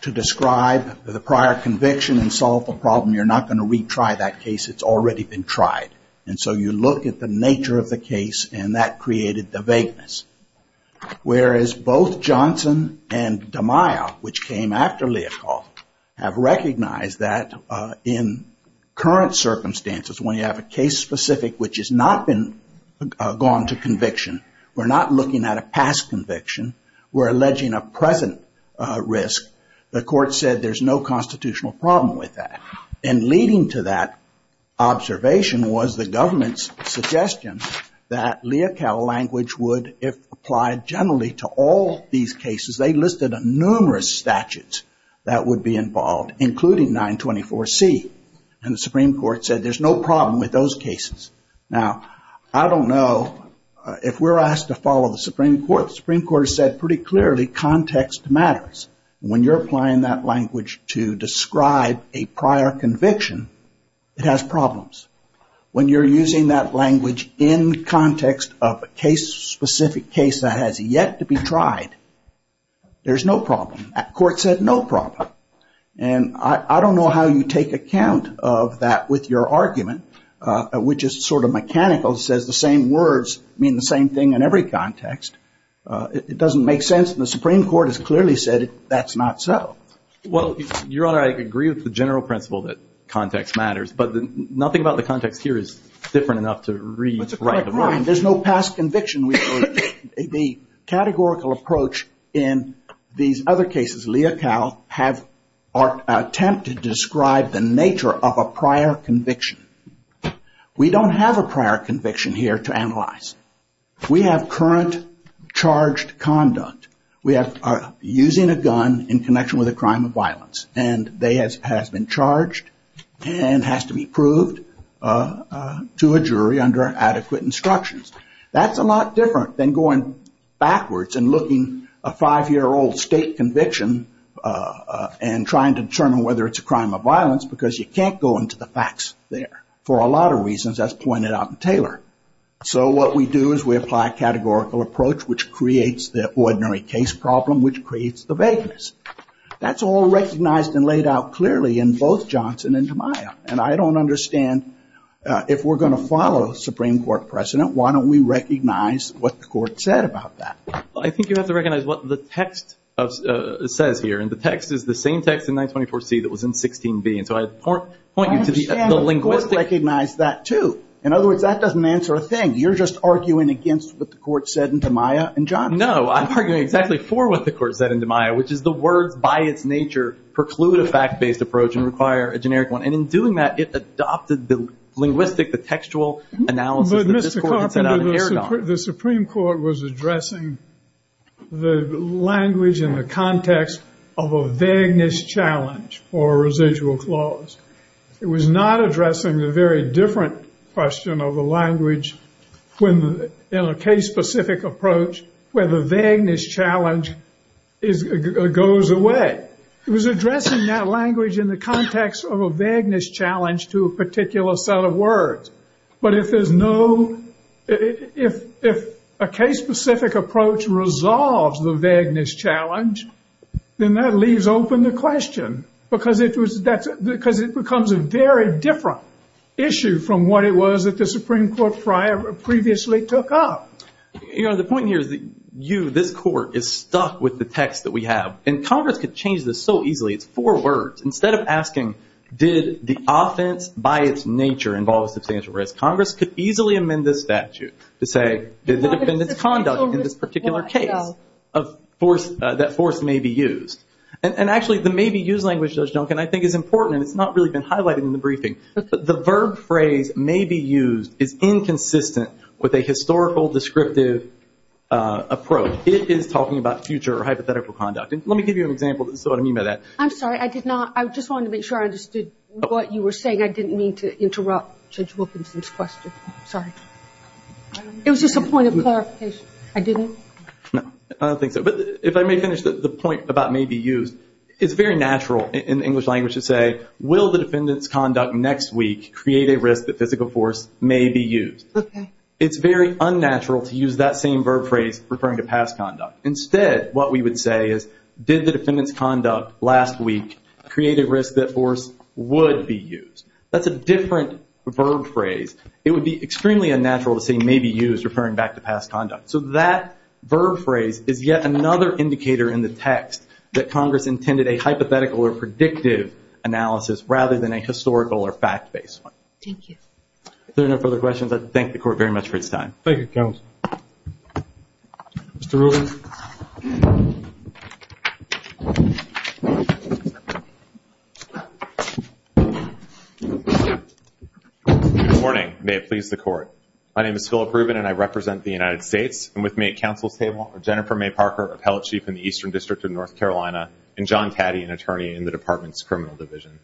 To describe the prior conviction and solve the problem, you're not going to retry that case. It's already been tried. And so you look at the nature of the case, and that created the vagueness. Whereas both Johnson and DeMaio, which came after Leachow, have recognized that in current circumstances, when you have a case specific which has not been gone to conviction, we're not looking at a past conviction. We're alleging a present risk. The court said there's no constitutional problem with that. And leading to that observation was the government's suggestion that Leachow language would apply generally to all these cases. They listed numerous statutes that would be involved, including 924C. And the Supreme Court said there's no problem with those cases. Now, I don't know if we're asked to follow the Supreme Court. The Supreme Court said pretty clearly context matters. When you're applying that language to describe a prior conviction, it has problems. When you're using that language in context of a case specific case that has yet to be tried, there's no problem. That court said no problem. And I don't know how you take account of that with your argument, which is sort of mechanical. It says the same words mean the same thing in every context. It doesn't make sense. And the Supreme Court has clearly said that's not so. Well, Your Honor, I agree with the general principle that context matters. But nothing about the context here is different enough to read. There's no past conviction. The categorical approach in these other cases, Leocal, have attempted to describe the nature of a prior conviction. We don't have a prior conviction here to analyze. We have current charged conduct. We are using a gun in connection with a crime of violence. And they have been charged and has to be proved to a jury under adequate instructions. That's a lot different than going backwards and looking a five-year-old state conviction and trying to determine whether it's a crime of violence because you can't go into the facts there. For a lot of reasons, as pointed out in Taylor. So what we do is we apply a categorical approach, which creates the ordinary case problem, which creates the vagueness. That's all recognized and laid out clearly in both Johnson and Tamiya. And I don't understand if we're going to follow a Supreme Court precedent, why don't we recognize what the court said about that? Well, I think you have to recognize what the text says here. And the text is the same text in 924C that was in 16B. And so I point you to the epilinguistic. I understand the court recognized that, too. In other words, that doesn't answer a thing. You're just arguing against what the court said in Tamiya and Johnson. No, I'm arguing exactly for what the court said in Tamiya, which is the word by its nature preclude a fact-based approach and require a generic one. And in doing that, it adopted the linguistic, the textual analysis that this court had set out to carry on. But, Mr. Kaufman, the Supreme Court was addressing the language in the context of a vagueness challenge or a residual clause. It was not addressing the very different question of the language in a case-specific approach where the vagueness challenge goes away. It was addressing that language in the context of a vagueness challenge to a particular set of words. But if there's no – if a case-specific approach resolves the vagueness challenge, then that leaves open the question because it becomes a very different issue from what it was that the Supreme Court previously took up. You know, the point here is that you, this court, is stuck with the text that we have. And Congress could change this so easily. It's four words. Instead of asking, did the offense by its nature involve substantial risk, Congress could easily amend this statute to say there's independent conduct in this particular case that force may be used. And actually, the may be used language, Judge Duncan, I think is important. It's not really been highlighted in the briefing. The verb phrase may be used is inconsistent with a historical descriptive approach. It is talking about future hypothetical conduct. Let me give you an example of what I mean by that. I'm sorry. I did not – I just wanted to make sure I understood what you were saying. I didn't mean to interrupt Judge Wilkinson's question. Sorry. It was just a point of clarification. I didn't? No. I don't think so. But if I may finish the point about may be used, it's very natural in English language to say, will the defendant's conduct next week create a risk that physical force may be used? Okay. It's very unnatural to use that same verb phrase referring to past conduct. Instead, what we would say is, did the defendant's conduct last week create a risk that force would be used? That's a different verb phrase. It would be extremely unnatural to say may be used referring back to past conduct. So that verb phrase is yet another indicator in the text that Congress intended a hypothetical or predictive analysis rather than a historical or fact-based one. Thank you. If there are no further questions, let's thank the Court very much for its time. Thank you, Counsel. Mr. Rubin. Good morning. May it please the Court. My name is Philip Rubin, and I represent the United States. And with me at Counsel's Table are Jennifer May Parker, Appellate Chief in the Eastern District of North Carolina, and John Taddy, an attorney in the Department's Criminal Division.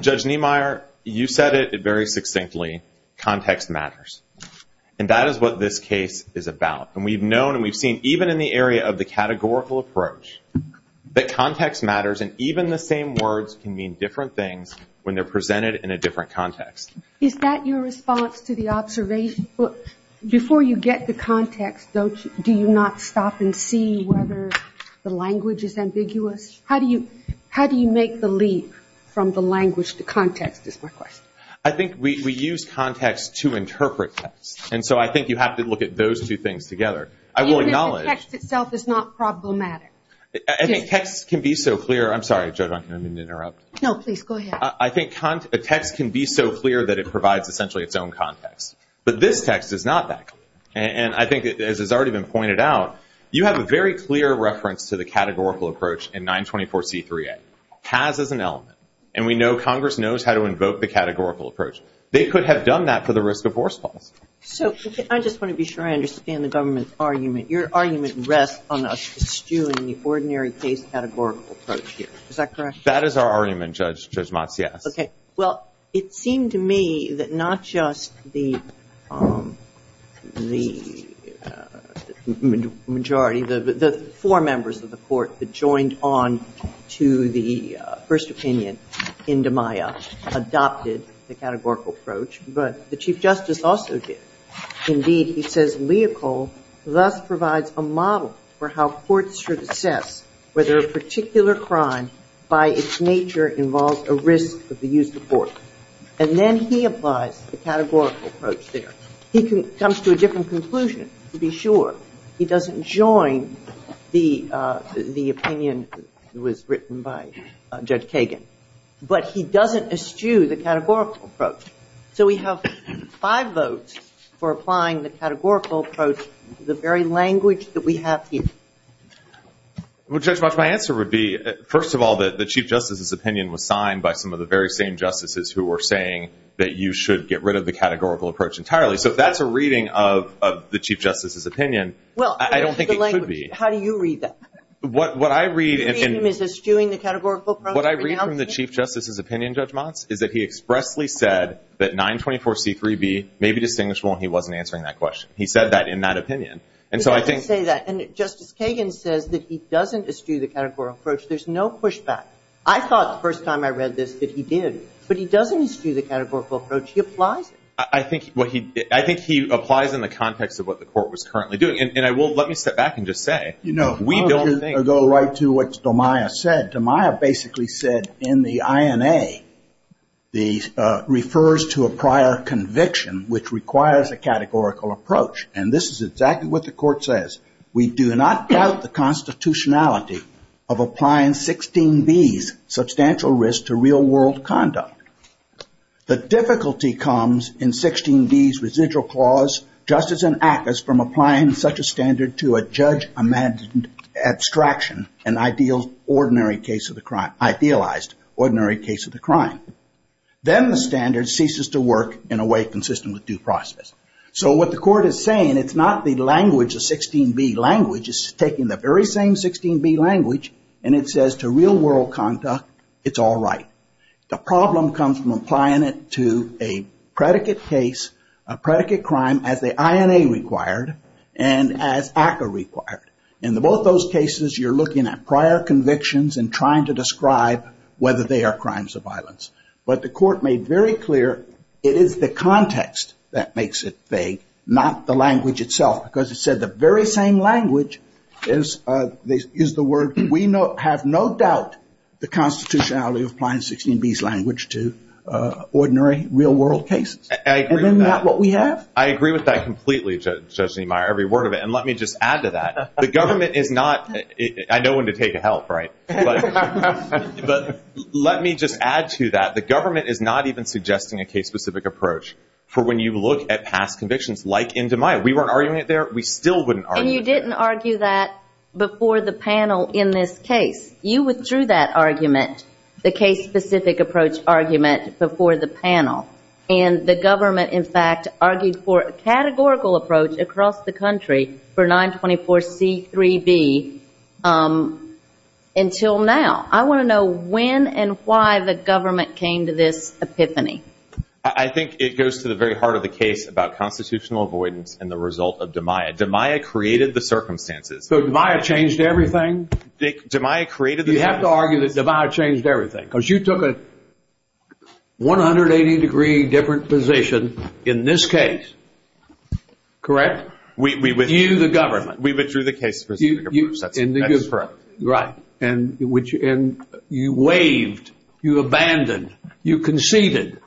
Judge Niemeyer, you said it very succinctly, context matters. And that is what this case is about. And we've known and we've seen, even in the area of the categorical approach, that context matters and even the same words can mean different things when they're presented in a different context. Is that your response to the observation? Before you get to context, do you not stop and see whether the language is ambiguous? How do you make the leap from the language to context is my question. I think we use context to interpret text. And so I think you have to look at those two things together. I will acknowledge – Even if the text itself is not problematic. I think text can be so clear – I'm sorry, Judge, I didn't mean to interrupt. No, please, go ahead. I think text can be so clear that it provides essentially its own context. But this text is not that clear. And I think, as has already been pointed out, you have a very clear reference to the categorical approach in 924C3A. Has is an element. And we know Congress knows how to invoke the categorical approach. They could have done that for the risk of forceful. I just want to be sure I understand the government's argument. Your argument rests on us eschewing the ordinary case categorical approach here. Is that correct? That is our argument, Judge Mazzia. Okay. Well, it seemed to me that not just the majority, the four members of the court that joined on to the first opinion in DiMaio adopted the categorical approach, but the Chief Justice also did. Indeed, he says, Leocold thus provides a model for how courts should assess whether a particular crime by its nature involves a risk of the use of force. And then he applies the categorical approach there. He comes to a different conclusion, to be sure. He doesn't join the opinion that was written by Judge Kagan. But he doesn't eschew the categorical approach. So we have five votes for applying the categorical approach to the very language that we have here. Well, Judge Mazzia, my answer would be, first of all, the Chief Justice's opinion was signed by some of the very same justices who were saying that you should get rid of the categorical approach entirely. So if that's a reading of the Chief Justice's opinion, I don't think it should be. Well, how do you read that? What I read in – You read him as eschewing the categorical approach? What I read from the Chief Justice's opinion, Judge Mazz, is that he expressly said that 924C3B may be distinguishable, and he wasn't answering that question. He said that in that opinion. He doesn't say that. And Justice Kagan says that he doesn't eschew the categorical approach. There's no pushback. I thought the first time I read this that he did. But he doesn't eschew the categorical approach. Do you apply? I think he applies in the context of what the court was currently doing. And let me step back and just say, we don't think – Let me go right to what Damiah said. Damiah basically said in the INA, the – refers to a prior conviction, which requires a categorical approach. And this is exactly what the court says. We do not doubt the constitutionality of applying 16B's substantial risk to real-world conduct. The difficulty comes in 16B's residual clause, justice and act as from applying such a standard to a judge-imagined abstraction, an idealized ordinary case of the crime. Then the standard ceases to work in a way consistent with due process. So what the court is saying, it's not the language, the 16B language. It's taking the very same 16B language, and it says to real-world conduct, it's all right. The problem comes from applying it to a predicate case, a predicate crime as the INA required and as ACCA required. In both those cases, you're looking at prior convictions and trying to describe whether they are crimes of violence. But the court made very clear it is the context that makes it vague, not the language itself. Because it said the very same language is the word. We have no doubt the constitutionality of applying 16B's language to ordinary, real-world cases. And isn't that what we have? I agree with that completely, Judge Niemeyer. Every word of it. And let me just add to that. The government is not – I know when to take a help, right? But let me just add to that. The government is not even suggesting a case-specific approach for when you look at past convictions like Indemia. We weren't arguing it there. We still wouldn't argue it there. And you didn't argue that before the panel in this case. You withdrew that argument, the case-specific approach argument, before the panel. And the government, in fact, argued for a categorical approach across the country for 924C3B until now. I want to know when and why the government came to this epiphany. I think it goes to the very heart of the case about constitutional avoidance and the result of Demeyer. Demeyer created the circumstances. So Demeyer changed everything? Demeyer created the circumstances. You have to argue that Demeyer changed everything because you took a 180-degree different position in this case. Correct? We withdrew the government. We withdrew the case-specific approach. Correct. Right. And you waived, you abandoned, you conceded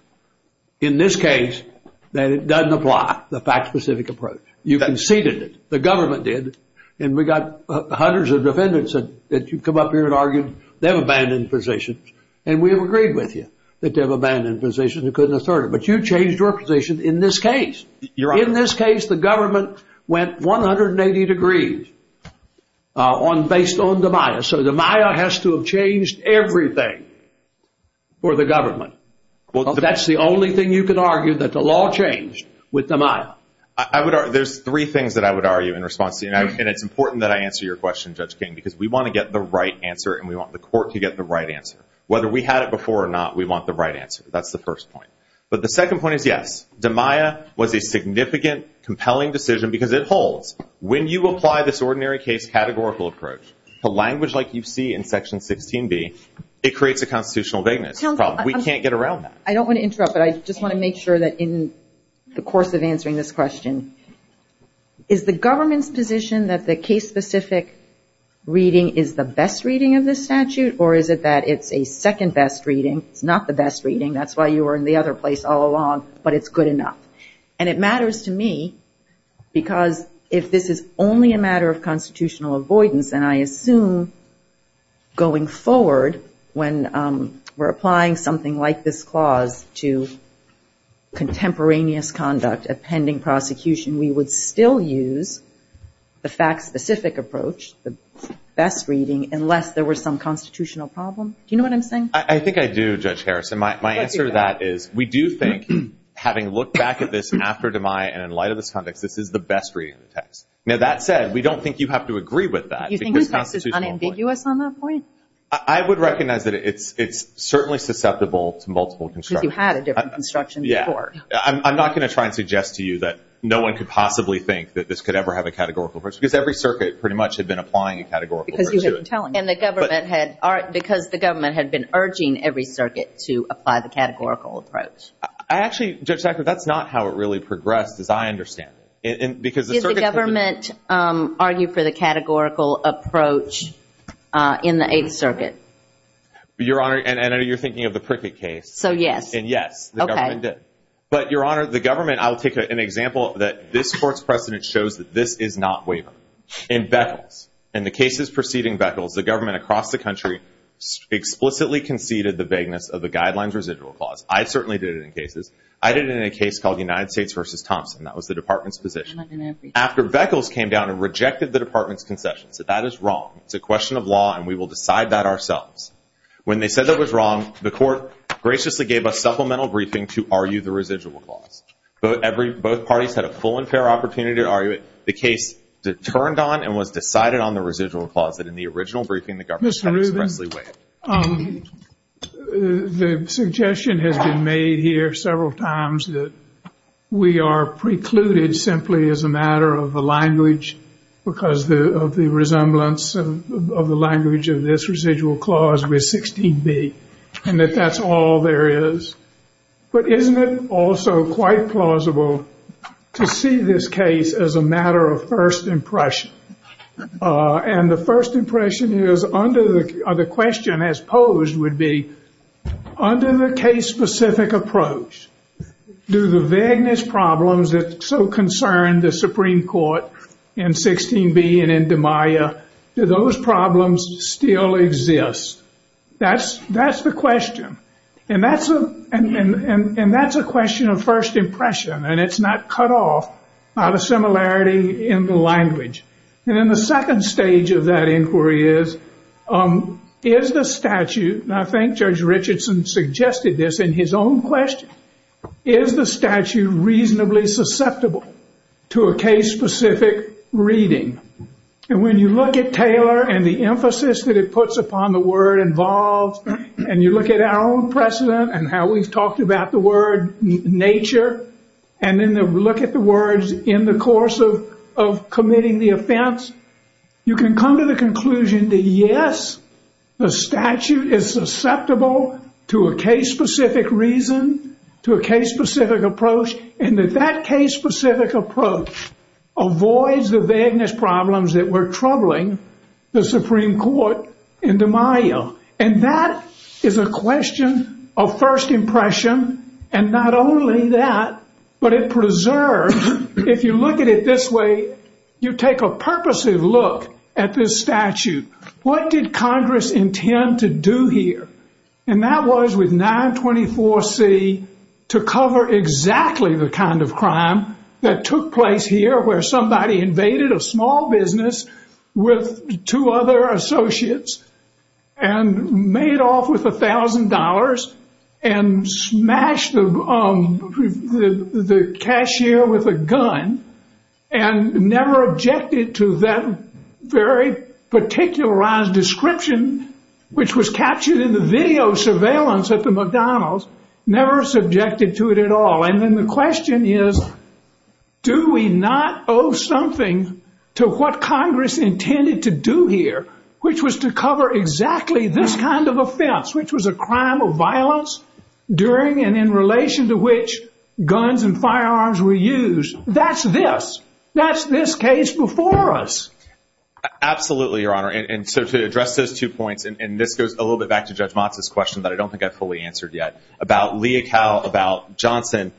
in this case that it doesn't apply, the fact-specific approach. You conceded it. The government did. And we got hundreds of defendants that you come up here and argued. They have abandoned positions. And we have agreed with you that they have abandoned positions and couldn't assert it. But you changed your position in this case. In this case, the government went 180 degrees based on Demeyer. So Demeyer has to have changed everything for the government. That's the only thing you can argue, that the law changed with Demeyer. There's three things that I would argue in response to you, and it's important that I answer your question, Judge King, because we want to get the right answer and we want the court to get the right answer. Whether we had it before or not, we want the right answer. That's the first point. But the second point is, yes, Demeyer was a significant, compelling decision because it holds. When you apply this ordinary case categorical approach to language like you see in Section 16B, it creates a constitutional vagueness. We can't get around that. I don't want to interrupt, but I just want to make sure that in the course of answering this question, is the government's position that the case-specific reading is the best reading of this statute, or is it that it's a second-best reading, not the best reading? That's why you were in the other place all along, but it's good enough. And it matters to me because if this is only a matter of constitutional avoidance, and I assume going forward when we're applying something like this clause to contemporaneous conduct, a pending prosecution, we would still use the fact-specific approach, the best reading, unless there was some constitutional problem. Do you know what I'm saying? I think I do, Judge Harrison. My answer to that is we do think, having looked back at this after DeMai and in light of this context, this is the best reading of the text. Now, that said, we don't think you have to agree with that. Do you think the text is unambiguous on that point? I would recognize that it's certainly susceptible to multiple constructions. Because you had a different construction before. I'm not going to try and suggest to you that no one could possibly think that this could ever have a categorical approach because every circuit pretty much had been applying a categorical approach to it. Because the government had been urging every circuit to apply the categorical approach. Actually, Judge Jackson, that's not how it really progressed as I understand it. Did the government argue for the categorical approach in the Eighth Circuit? Your Honor, I know you're thinking of the Prickett case. So, yes. And, yes, the government did. But, Your Honor, the government, I'll take an example, that this Court's precedent shows that this is not wavering. In Beckles, and the cases preceding Beckles, the government across the country explicitly conceded the vagueness of the guidelines residual clause. I certainly did it in cases. I did it in a case called the United States v. Thompson. That was the Department's position. After Beckles came down and rejected the Department's concession, said that is wrong, it's a question of law, and we will decide that ourselves. When they said that was wrong, the Court graciously gave a supplemental briefing to argue the residual clause. Both parties had a full and fair opportunity to argue it. The case that turned on and was decided on the residual clause that in the original briefing the government Mr. Rubin, the suggestion has been made here several times that we are precluded simply as a matter of the language because of the resemblance of the language of this residual clause with 16B, and that that's all there is. But isn't it also quite plausible to see this case as a matter of first impression? And the first impression is, or the question has posed would be, under the case-specific approach, do the vagueness problems that so concern the Supreme Court in 16B and in DiMaia, do those problems still exist? That's the question. And that's a question of first impression, and it's not cut off by the similarity in the language. And then the second stage of that inquiry is, is the statute, and I think Judge Richardson suggested this in his own question, is the statute reasonably susceptible to a case-specific reading? And when you look at Taylor and the emphasis that it puts upon the word involved, and you look at our own precedent and how we've talked about the word nature, and then look at the words in the course of committing the offense, you can come to the conclusion that yes, the statute is susceptible to a case-specific reason, to a case-specific approach, and that that case-specific approach avoids the vagueness problems that were troubling the Supreme Court in DiMaia. And that is a question of first impression, and not only that, but it preserves, if you look at it this way, you take a purposive look at this statute. What did Congress intend to do here? And that was, with 924C, to cover exactly the kind of crime that took place here, where somebody invaded a small business with two other associates and made off with $1,000 and smashed the cashier with a gun and never objected to that very particularized description, which was captured in the video surveillance at the McDonald's, never subjected to it at all. And then the question is, do we not owe something to what Congress intended to do here, which was to cover exactly this kind of offense, which was a crime or violence, during and in relation to which guns and firearms were used? That's this. That's this case before us. Absolutely, Your Honor. And so to address those two points, and this goes a little bit back to Judge Mata's question, but I don't think I've fully answered yet, about Leocal, about Johnson.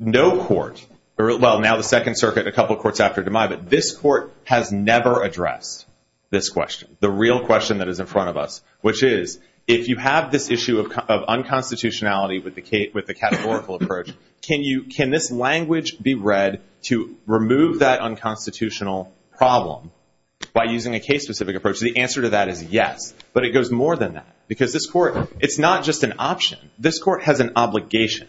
No court, well, now the Second Circuit, a couple of courts after DeMai, but this court has never addressed this question, the real question that is in front of us, which is, if you have this issue of unconstitutionality with the categorical approach, can this language be read to remove that unconstitutional problem by using a case-specific approach? The answer to that is yes, but it goes more than that, because this court, it's not just an option. This court has an obligation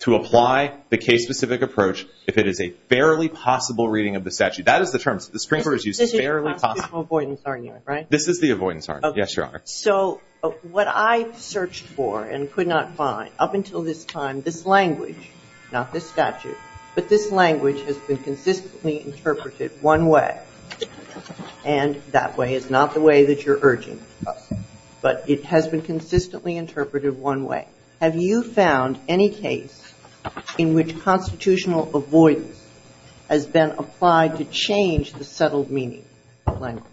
to apply the case-specific approach if it is a fairly possible reading of the statute. That is the term. The Supreme Court has used fairly possible. This is constitutional avoidance, aren't you? This is the avoidance, yes, Your Honor. So what I searched for and could not find up until this time, this language, not the statute, but this language has been consistently interpreted one way, and that way is not the way that you're urging, but it has been consistently interpreted one way. Have you found any case in which constitutional avoidance has been applied to change the settled meaning of language,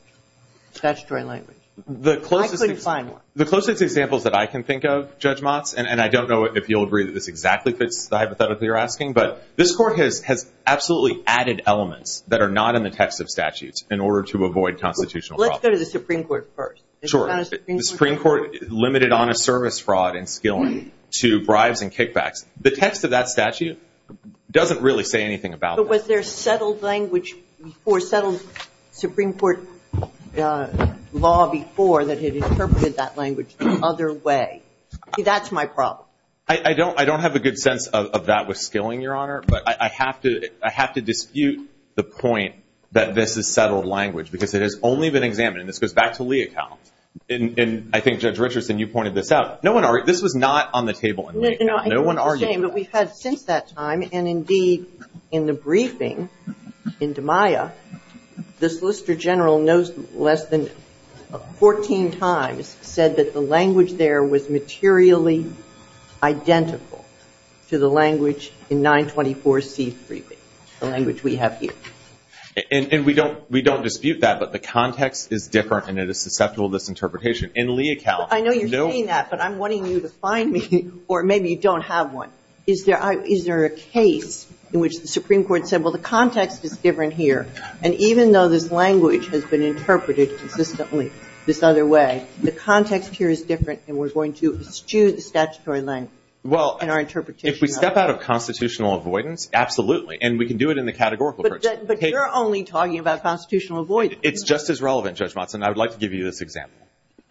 statutory language? I couldn't find one. The closest example that I can think of, Judge Motz, and I don't know if you'll agree that this exactly fits the hypothesis that you're asking, but this court has absolutely added elements that are not in the text of statutes in order to avoid constitutional problems. Let's go to the Supreme Court first. Sure. The Supreme Court limited honest service fraud and skilling to bribes and kickbacks. The text of that statute doesn't really say anything about that. But was there settled language before, settled Supreme Court law before that had interpreted that language the other way? See, that's my problem. I don't have a good sense of that with skilling, Your Honor, but I have to dispute the point that this is settled language because it has only been examined, and this goes back to Lee et al. And I think Judge Richardson, you pointed this out. This was not on the table in Lee et al. No one argued that. But we've had since that time, and indeed in the briefing in DiMaia, the Solicitor General knows less than 14 times said that the language there was materially identical to the language in 924C's briefing, the language we have here. And we don't dispute that, but the context is different, and it is susceptible to misinterpretation. In Lee et al. Well, I know you're saying that, but I'm wanting you to find me, or maybe you don't have one. Is there a case in which the Supreme Court said, well, the context is different here, and even though this language has been interpreted consistently this other way, the context here is different, and we're going to eschew the statutory language in our interpretation of it. Well, if we step out of constitutional avoidance, absolutely, and we can do it in the categorical case. But you're only talking about constitutional avoidance. It's just as relevant, Judge Watson. I would like to give you this example.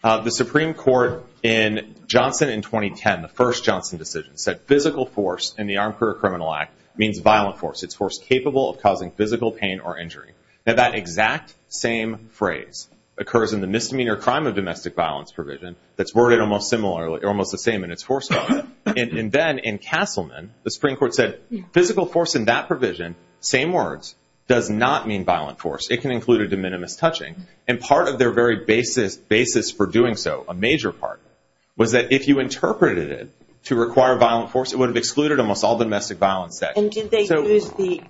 The Supreme Court in Johnson in 2010, the first Johnson decision, said physical force in the Armed Career Criminal Act means violent force. It's force capable of causing physical pain or injury. Now, that exact same phrase occurs in the misdemeanor crime of domestic violence provision. It's worded almost the same in its foresight. And then in Castleman, the Supreme Court said physical force in that provision, same words, does not mean violent force. It can include a de minimis touching. And part of their very basis for doing so, a major part, was that if you interpreted it to require violent force, it would have excluded almost all domestic violence. And did they use the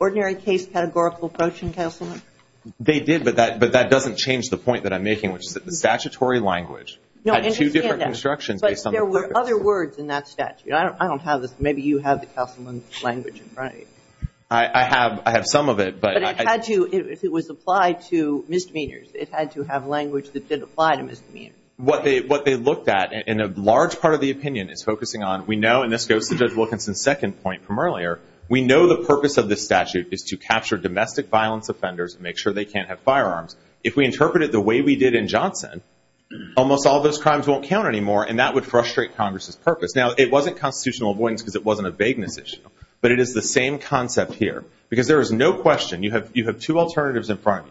ordinary case categorical approach in Castleman? They did, but that doesn't change the point that I'm making, which is that the statutory language has two different constructions. But there were other words in that statute. I don't have it. Maybe you have the Castleman language, right? I have some of it. It was applied to misdemeanors. It had to have language that did apply to misdemeanors. What they looked at in a large part of the opinion is focusing on we know, and this goes to Judge Wilkinson's second point from earlier, we know the purpose of this statute is to capture domestic violence offenders and make sure they can't have firearms. If we interpret it the way we did in Johnson, almost all those crimes won't count anymore, and that would frustrate Congress's purpose. Now, it wasn't constitutional avoidance because it wasn't a vagueness issue, but it is the same concept here because there is no question. You have two alternatives in front,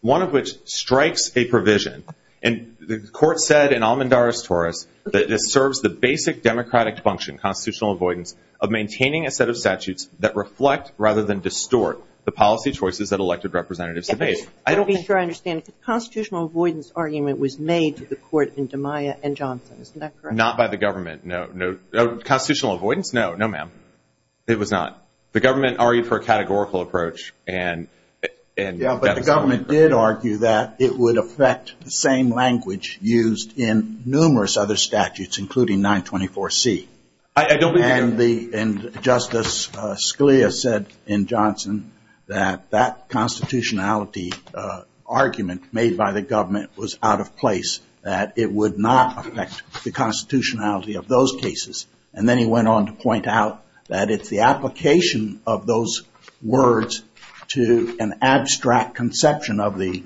one of which strikes a provision, and the court said in Almendara's Taurus that it serves the basic democratic function, constitutional avoidance, of maintaining a set of statutes that reflect rather than distort the policy choices that elected representatives have made. I don't think I understand. The constitutional avoidance argument was made to the court in DiMaia and Johnson. Is that correct? Not by the government, no. Constitutional avoidance? No, no, ma'am. It was not. The government argued for a categorical approach. Yeah, but the government did argue that it would affect the same language used in numerous other statutes, including 924C. I don't believe that. And Justice Scalia said in Johnson that that constitutionality argument made by the government was out of place, that it would not affect the constitutionality of those cases, and then he went on to point out that it's the application of those words to an abstract conception of the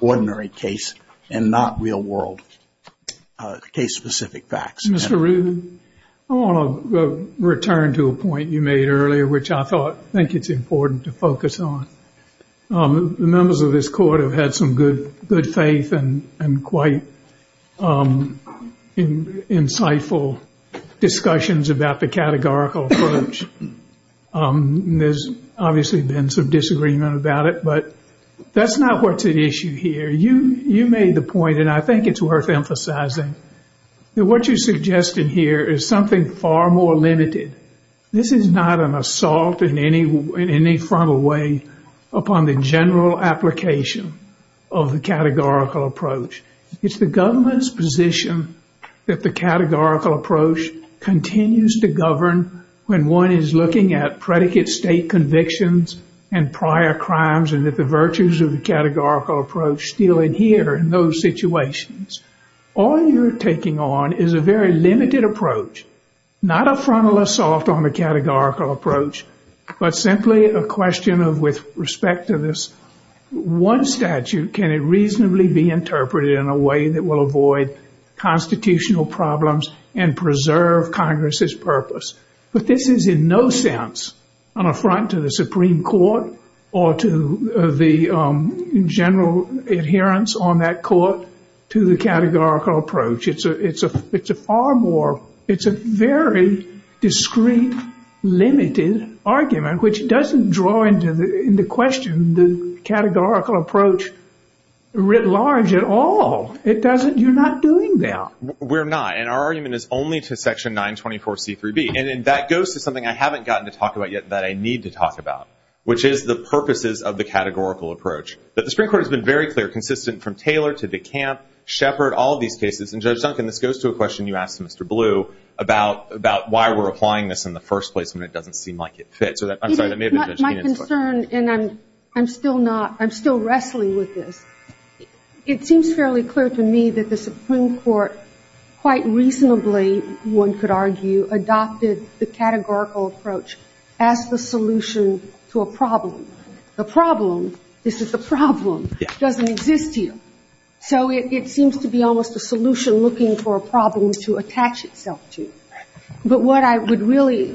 ordinary case and not real world case-specific facts. Mr. Reardon, I want to return to a point you made earlier, which I think it's important to focus on. The members of this court have had some good faith and quite insightful discussions about the categorical approach. There's obviously been some disagreement about it, but that's not what's at issue here. You made the point, and I think it's worth emphasizing, that what you're suggesting here is something far more limited. This is not an assault in any frontal way upon the general application of the categorical approach. It's the government's position that the categorical approach continues to govern when one is looking at predicate state convictions and prior crimes, and that the virtues of the categorical approach still adhere in those situations. All you're taking on is a very limited approach, not a frontal assault on the categorical approach, but simply a question of, with respect to this one statute, can it reasonably be interpreted in a way that will avoid constitutional problems and preserve Congress's purpose? But this is in no sense an affront to the Supreme Court or to the general adherence on that court to the categorical approach. It's a very discreet, limited argument, which doesn't draw into question the categorical approach writ large at all. You're not doing that. We're not, and our argument is only to Section 924C3B, and that goes to something I haven't gotten to talk about yet that I need to talk about, which is the purposes of the categorical approach. But the Supreme Court has been very clear, consistent from Taylor to DeKalb, Shepard, all these cases, and Judge Duncan, this goes to a question you asked Mr. Blue about why we're applying this in the first place, and it doesn't seem like it fits. My concern, and I'm still wrestling with this, it seems fairly clear to me that the Supreme Court quite reasonably, one could argue, adopted the categorical approach as the solution to a problem. The problem, this is a problem, doesn't exist here. So it seems to be almost a solution looking for a problem to attach itself to. But what I would really,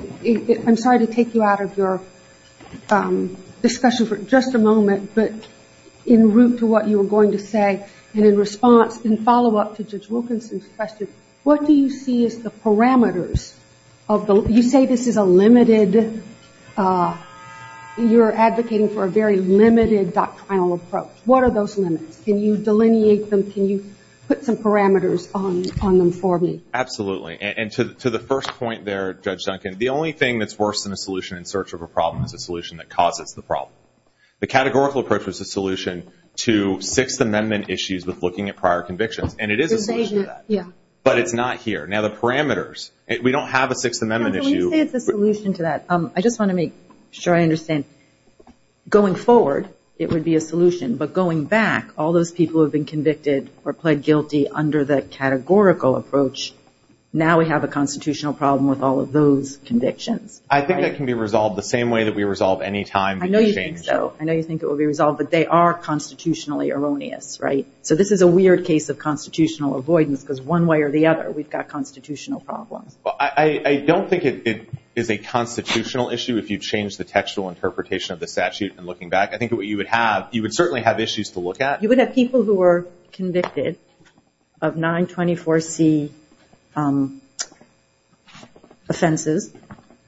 I'm sorry to take you out of your discussion for just a moment, but in route to what you were going to say and in response and follow up to Judge Wilkinson's question, what do you see as the parameters of the, you say this is a limited, you're advocating for a very limited doctrinal approach. What are those limits? Can you delineate them? Can you put some parameters on them for me? Absolutely, and to the first point there, Judge Duncan, the only thing that's worse than a solution in search of a problem is a solution that causes the problem. The categorical approach is a solution to Sixth Amendment issues with looking at prior conviction, and it is a solution to that. But it's not here. Now, the parameters, we don't have a Sixth Amendment issue. You said it's a solution to that. I just want to make sure I understand. Going forward, it would be a solution, but going back, all those people who have been convicted or pled guilty under the categorical approach, now we have a constitutional problem with all of those convictions. I think that can be resolved the same way that we resolve any time. I know you think so. I know you think it will be resolved, but they are constitutionally erroneous, right? So this is a weird case of constitutional avoidance because one way or the other, we've got constitutional problems. I don't think it is a constitutional issue if you change the textual interpretation of the statute. And looking back, I think what you would have, you would certainly have issues to look at. You would have people who were convicted of 924C offenses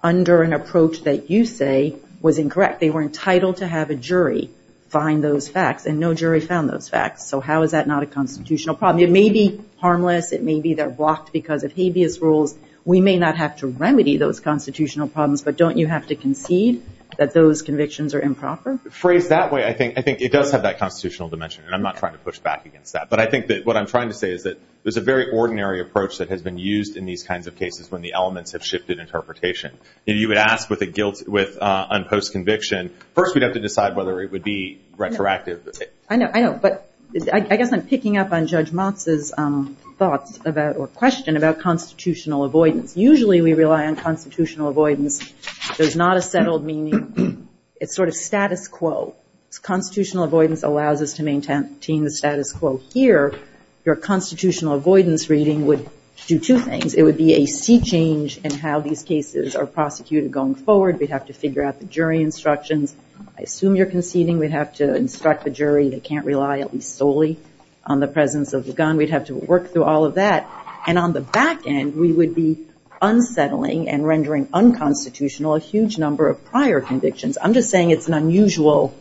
under an approach that you say was incorrect. They were entitled to have a jury find those facts, and no jury found those facts. So how is that not a constitutional problem? It may be harmless. It may be they're blocked because of habeas rules. We may not have to remedy those constitutional problems, but don't you have to concede that those convictions are improper? Phrased that way, I think it does have that constitutional dimension, and I'm not trying to push back against that. But I think that what I'm trying to say is that there's a very ordinary approach that has been used in these kinds of cases when the elements have shifted interpretation. And you would ask with unposed conviction, first we'd have to decide whether it would be retroactive. I know, but I guess I'm picking up on Judge Motz's thought or question about constitutional avoidance. Usually we rely on constitutional avoidance. There's not a settled meaning. It's sort of status quo. If constitutional avoidance allows us to maintain the status quo here, your constitutional avoidance reading would do two things. It would be a sea change in how these cases are prosecuted going forward. We'd have to figure out the jury instructions. I assume you're conceding we'd have to instruct the jury they can't rely solely on the presence of the gun. We'd have to work through all of that. And on the back end, we would be unsettling and rendering unconstitutional a huge number of prior convictions. I'm just saying it's an unusual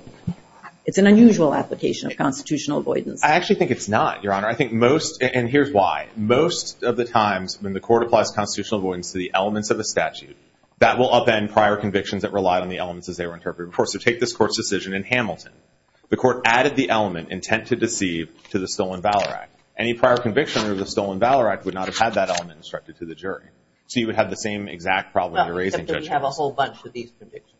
application of constitutional avoidance. I actually think it's not, Your Honor. And here's why. Most of the times when the court applies constitutional avoidance to the elements of a statute, that will upend prior convictions that rely on the elements as they were interpreted before. So take this court's decision in Hamilton. The court added the element, intent to deceive, to the Stolen Valor Act. Any prior conviction under the Stolen Valor Act would not have had that element instructed to the jury. So you would have the same exact problem you're raising, Judge Motz. Well, except that you have a whole bunch of these convictions.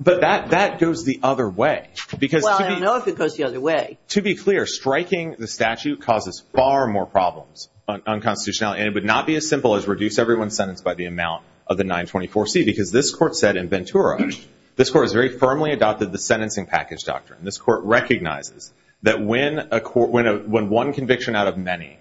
But that goes the other way. Well, I don't know if it goes the other way. To be clear, striking the statute causes far more problems on constitutionality. And it would not be as simple as reduce everyone sentenced by the amount of the 924C, because this court said in Ventura, this court has very firmly adopted the sentencing package doctrine. This court recognizes that when one conviction out of many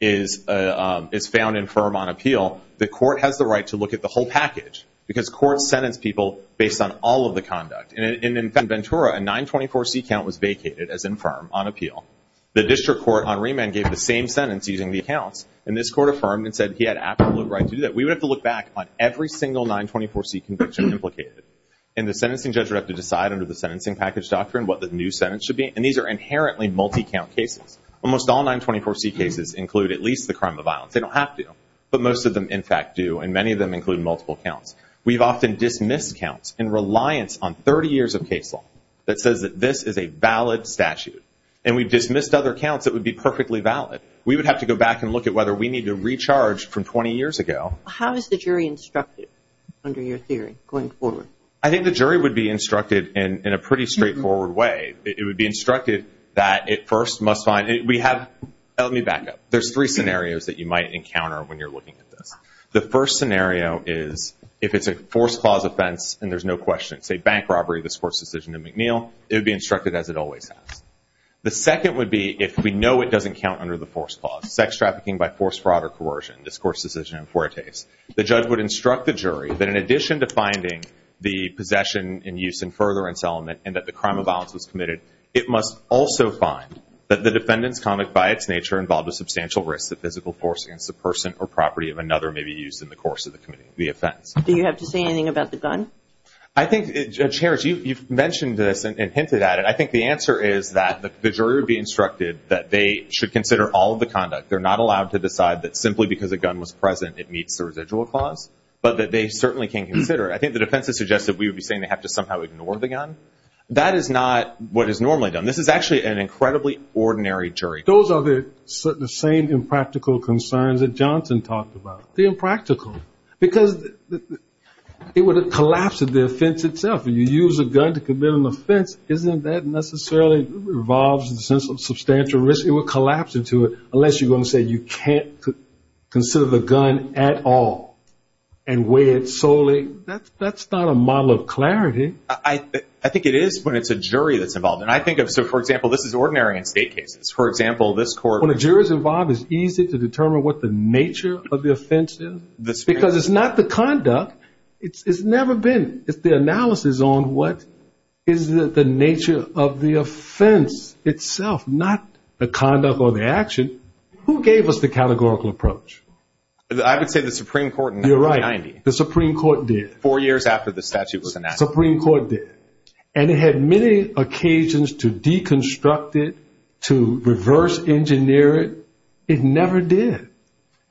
is found infirm on appeal, the court has the right to look at the whole package because courts sentence people based on all of the conduct. And in Ventura, a 924C count was vacated as infirm on appeal. The district court on remand gave the same sentence using the account. And this court affirmed and said he had absolute right to do that. We would have to look back on every single 924C conviction implicated. And the sentencing judge would have to decide under the sentencing package doctrine what the new sentence should be. And these are inherently multi-count cases. Almost all 924C cases include at least the crime of violence. They don't have to. But most of them, in fact, do. And many of them include multiple counts. We've often dismissed counts in reliance on 30 years of case law that says that this is a valid statute. And we've dismissed other counts that would be perfectly valid. We would have to go back and look at whether we need to recharge from 20 years ago. How is the jury instructed under your theory going forward? I think the jury would be instructed in a pretty straightforward way. It would be instructed that it first must find – let me back up. There's three scenarios that you might encounter when you're looking at this. The first scenario is if it's a forced clause offense and there's no question. Say bank robbery, this court's decision in McNeil. It would be instructed as it always has. The second would be if we know it doesn't count under the forced clause. Sex trafficking by force, fraud, or coercion, this court's decision in Fuertes. The judge would instruct the jury that in addition to finding the possession and use and furtherance element and that the crime of violence was committed, it must also find that the defendant's conduct by its nature involved a substantial risk that physical force against the person or property of another may be used in the course of the offense. Do you have to say anything about the gun? I think, Judge Harris, you've mentioned this and hinted at it. I think the answer is that the jury would be instructed that they should consider all of the conduct. They're not allowed to decide that simply because the gun was present it meets the residual clause, but that they certainly can consider it. I think the defense has suggested we would be saying they have to somehow ignore the gun. That is not what is normally done. This is actually an incredibly ordinary jury. Those are the same impractical concerns that Johnson talked about. Because it would collapse the offense itself. When you use a gun to commit an offense, isn't that necessarily involves a substantial risk? It would collapse into it unless you're going to say you can't consider the gun at all and weigh it solely. That's not a model of clarity. I think it is when it's a jury that's involved. For example, this is ordinary in state cases. When a jury's involved, it's easy to determine what the nature of the offense is. Because it's not the conduct. It's never been. It's the analysis on what is the nature of the offense itself, not the conduct or the action. Who gave us the categorical approach? I would say the Supreme Court in 1990. You're right. The Supreme Court did. Four years after the statute was enacted. The Supreme Court did. And it had many occasions to deconstruct it, to reverse engineer it. It never did.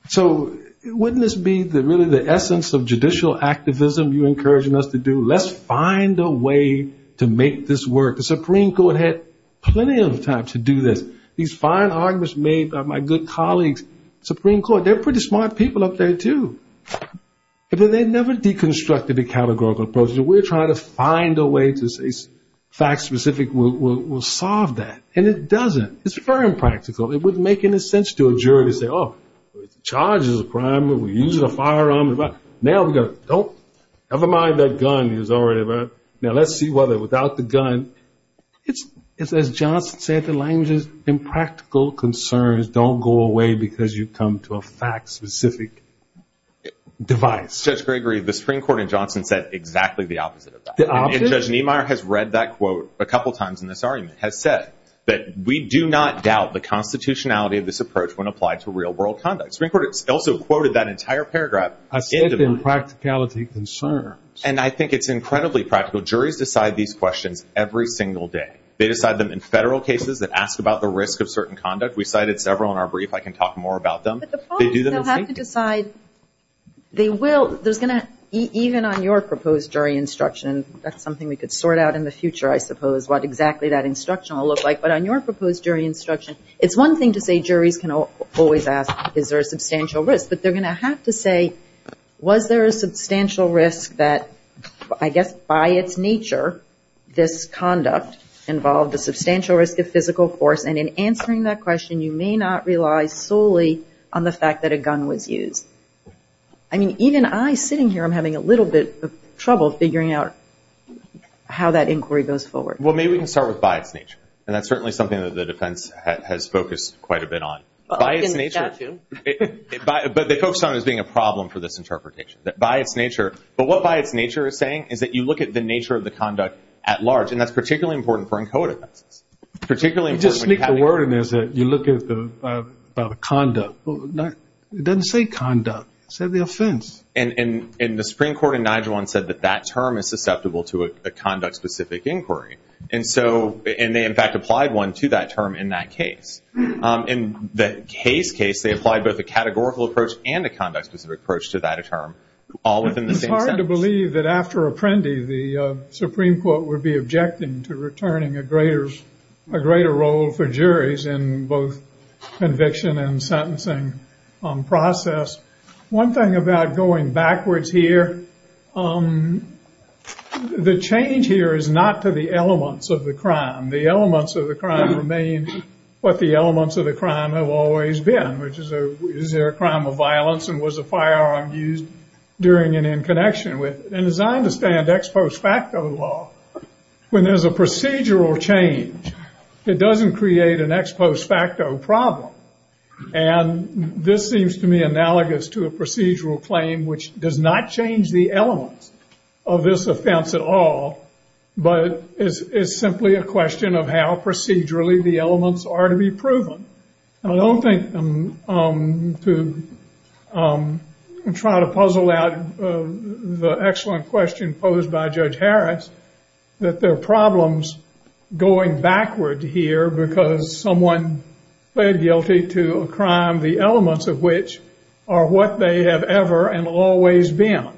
So wouldn't this be really the essence of judicial activism you're encouraging us to do? Let's find a way to make this work. The Supreme Court had plenty of time to do this. These fine arguments made by my good colleagues, Supreme Court, they're pretty smart people up there, too. But they never deconstructed the categorical approach. We're trying to find a way to say fact-specific will solve that. And it doesn't. It's very impractical. It wouldn't make any sense to a jury to say, oh, charge is a crime. We use a firearm. Now we go, nope. Never mind that gun. It was already there. Now let's see whether without the gun. As Johnson said, the language is impractical concerns don't go away because you come to a fact-specific device. Judge Gregory, the Supreme Court in Johnson said exactly the opposite of that. The opposite? And Judge Niemeyer has read that quote a couple times in this argument, has said that we do not doubt the constitutionality of this approach when applied to real-world conduct. The Supreme Court also quoted that entire paragraph. I said it's impracticality concerns. And I think it's incredibly practical. Juries decide these questions every single day. They decide them in federal cases and ask about the risk of certain conduct. We cited several in our brief. I can talk more about them. But the point is you have to decide they will. Even on your proposed jury instruction, that's something we could sort out in the future, I suppose, what exactly that instruction will look like. But on your proposed jury instruction, it's one thing to say juries can always ask, is there a substantial risk? But they're going to have to say, was there a substantial risk that I guess by its nature this conduct involved a substantial risk of physical force? And in answering that question, you may not rely solely on the fact that a gun was used. I mean, even I sitting here, I'm having a little bit of trouble figuring out how that inquiry goes forward. Well, maybe we can start with by its nature. And that's certainly something that the defense has focused quite a bit on. But they focus on it as being a problem for this interpretation, that by its nature. But what by its nature is saying is that you look at the nature of the conduct at large. And that's particularly important for ENCODA. Particularly important. You just speak the word, and you look at the conduct. It doesn't say conduct. It says the offense. And the Supreme Court in 9-1-1 said that that term is susceptible to a conduct-specific inquiry. And they, in fact, applied one to that term in that case. In the Case case, they applied both a categorical approach and a conduct-specific approach to that term, all within the same sentence. It's hard to believe that after Apprendi, the Supreme Court would be objecting to returning a greater role for juries in both conviction and sentencing process. One thing about going backwards here, the change here is not to the elements of the crime. The elements of the crime remains what the elements of the crime have always been, which is, is there a crime of violence and was a firearm used during and in connection with it? And as I understand ex post facto law, when there's a procedural change that doesn't create an ex post facto problem, and this seems to me analogous to a procedural claim which does not change the elements of this offense at all, but it's simply a question of how procedurally the elements are to be proven. I don't think to try to puzzle out the excellent question posed by Judge Harris, that there are problems going backward here because someone pled guilty to a crime, the elements of which are what they have ever and always been.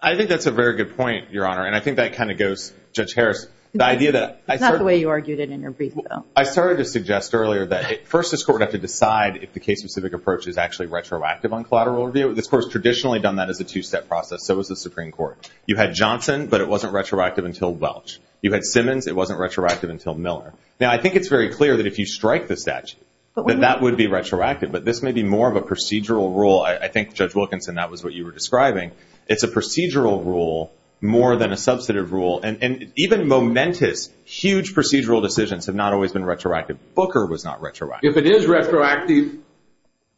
I think that's a very good point, Your Honor, and I think that kind of goes, Judge Harris. It's not the way you argued it in your brief, though. I started to suggest earlier that first this Court would have to decide if the case-specific approach is actually retroactive on collateral review. This Court has traditionally done that as a two-step process. That was the Supreme Court. You had Johnson, but it wasn't retroactive until Welch. You had Simmons. It wasn't retroactive until Miller. Now, I think it's very clear that if you strike the statute, then that would be retroactive, but this may be more of a procedural rule. I think, Judge Wilkinson, that was what you were describing. It's a procedural rule more than a substantive rule, and even momentous, huge procedural decisions have not always been retroactive. Booker was not retroactive. If it is retroactive,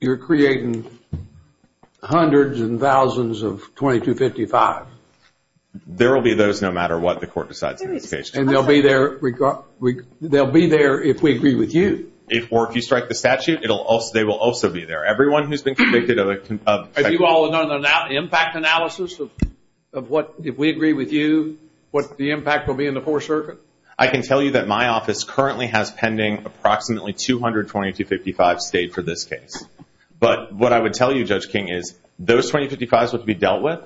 you're creating hundreds and thousands of 2255. There will be those no matter what the Court decides in the case. And they'll be there if we agree with you. Or if you strike the statute, they will also be there. Have you all done an impact analysis of what, if we agree with you, what the impact will be in the Fourth Circuit? I can tell you that my office currently has pending approximately 200 2255s to date for this case. But what I would tell you, Judge King, is those 2255s must be dealt with.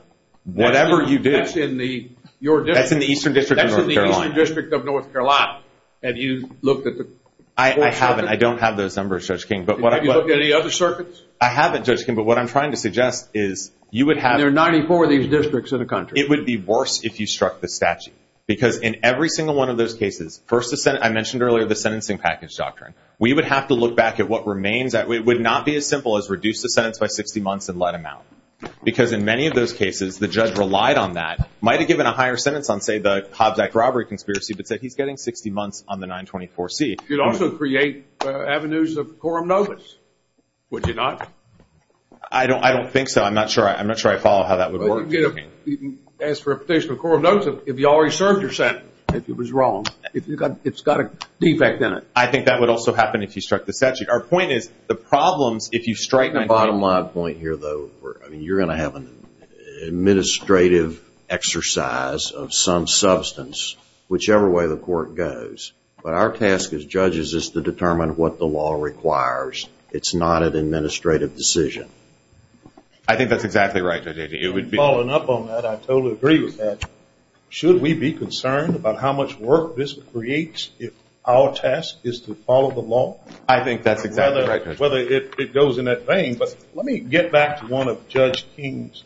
Whatever you do, that's in the Eastern District of North Carolina. That's in the Eastern District of North Carolina. Have you looked at the Fourth Circuit? I haven't. I don't have those numbers, Judge King. Have you looked at any other circuits? I haven't, Judge King, but what I'm trying to suggest is you would have to. There are 94 of these districts in the country. It would be worse if you struck the statute. Because in every single one of those cases, first I mentioned earlier the sentencing package doctrine, we would have to look back at what remains. It would not be as simple as reduce the sentence by 60 months and let him out. Because in many of those cases, the judge relied on that, might have given a higher sentence on, say, the Hobbs Act robbery conspiracy, but said he's getting 60 months on the 924C. You'd also create avenues of coram nobis, would you not? I don't think so. I'm not sure I follow how that would work. As for a petition of coram nobis, if you already served your sentence, it was wrong. It's got a defect in it. I think that would also happen if you struck the statute. Our point is the problem, if you strike the bottom line point here, though, you're going to have an administrative exercise of some substance, whichever way the court goes. But our task as judges is to determine what the law requires. It's not an administrative decision. I think that's exactly right. I totally agree with that. Should we be concerned about how much work this creates if our task is to follow the law? I think that's exactly right. Whether it goes in that vein. But let me get back to one of Judge King's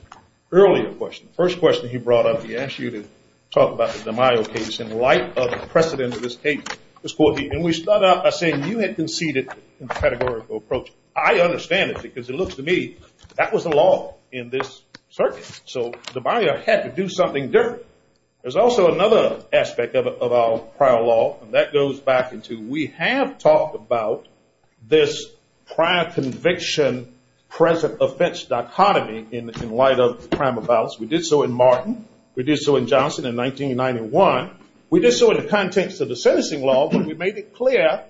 earlier questions. First question he brought up, he asked you to talk about the DiMaio case in light of the precedent of this case. And we start out by saying you had conceded a categorical approach. I understand it because it looks to me that was the law in this circuit. So DiMaio had to do something different. There's also another aspect of our prior law, and that goes back into we have talked about this prior conviction, present offense dichotomy in light of the crime of violence. We did so in Martin. We did so in Johnson in 1991. We did so in the context of the sentencing law, but we made it clear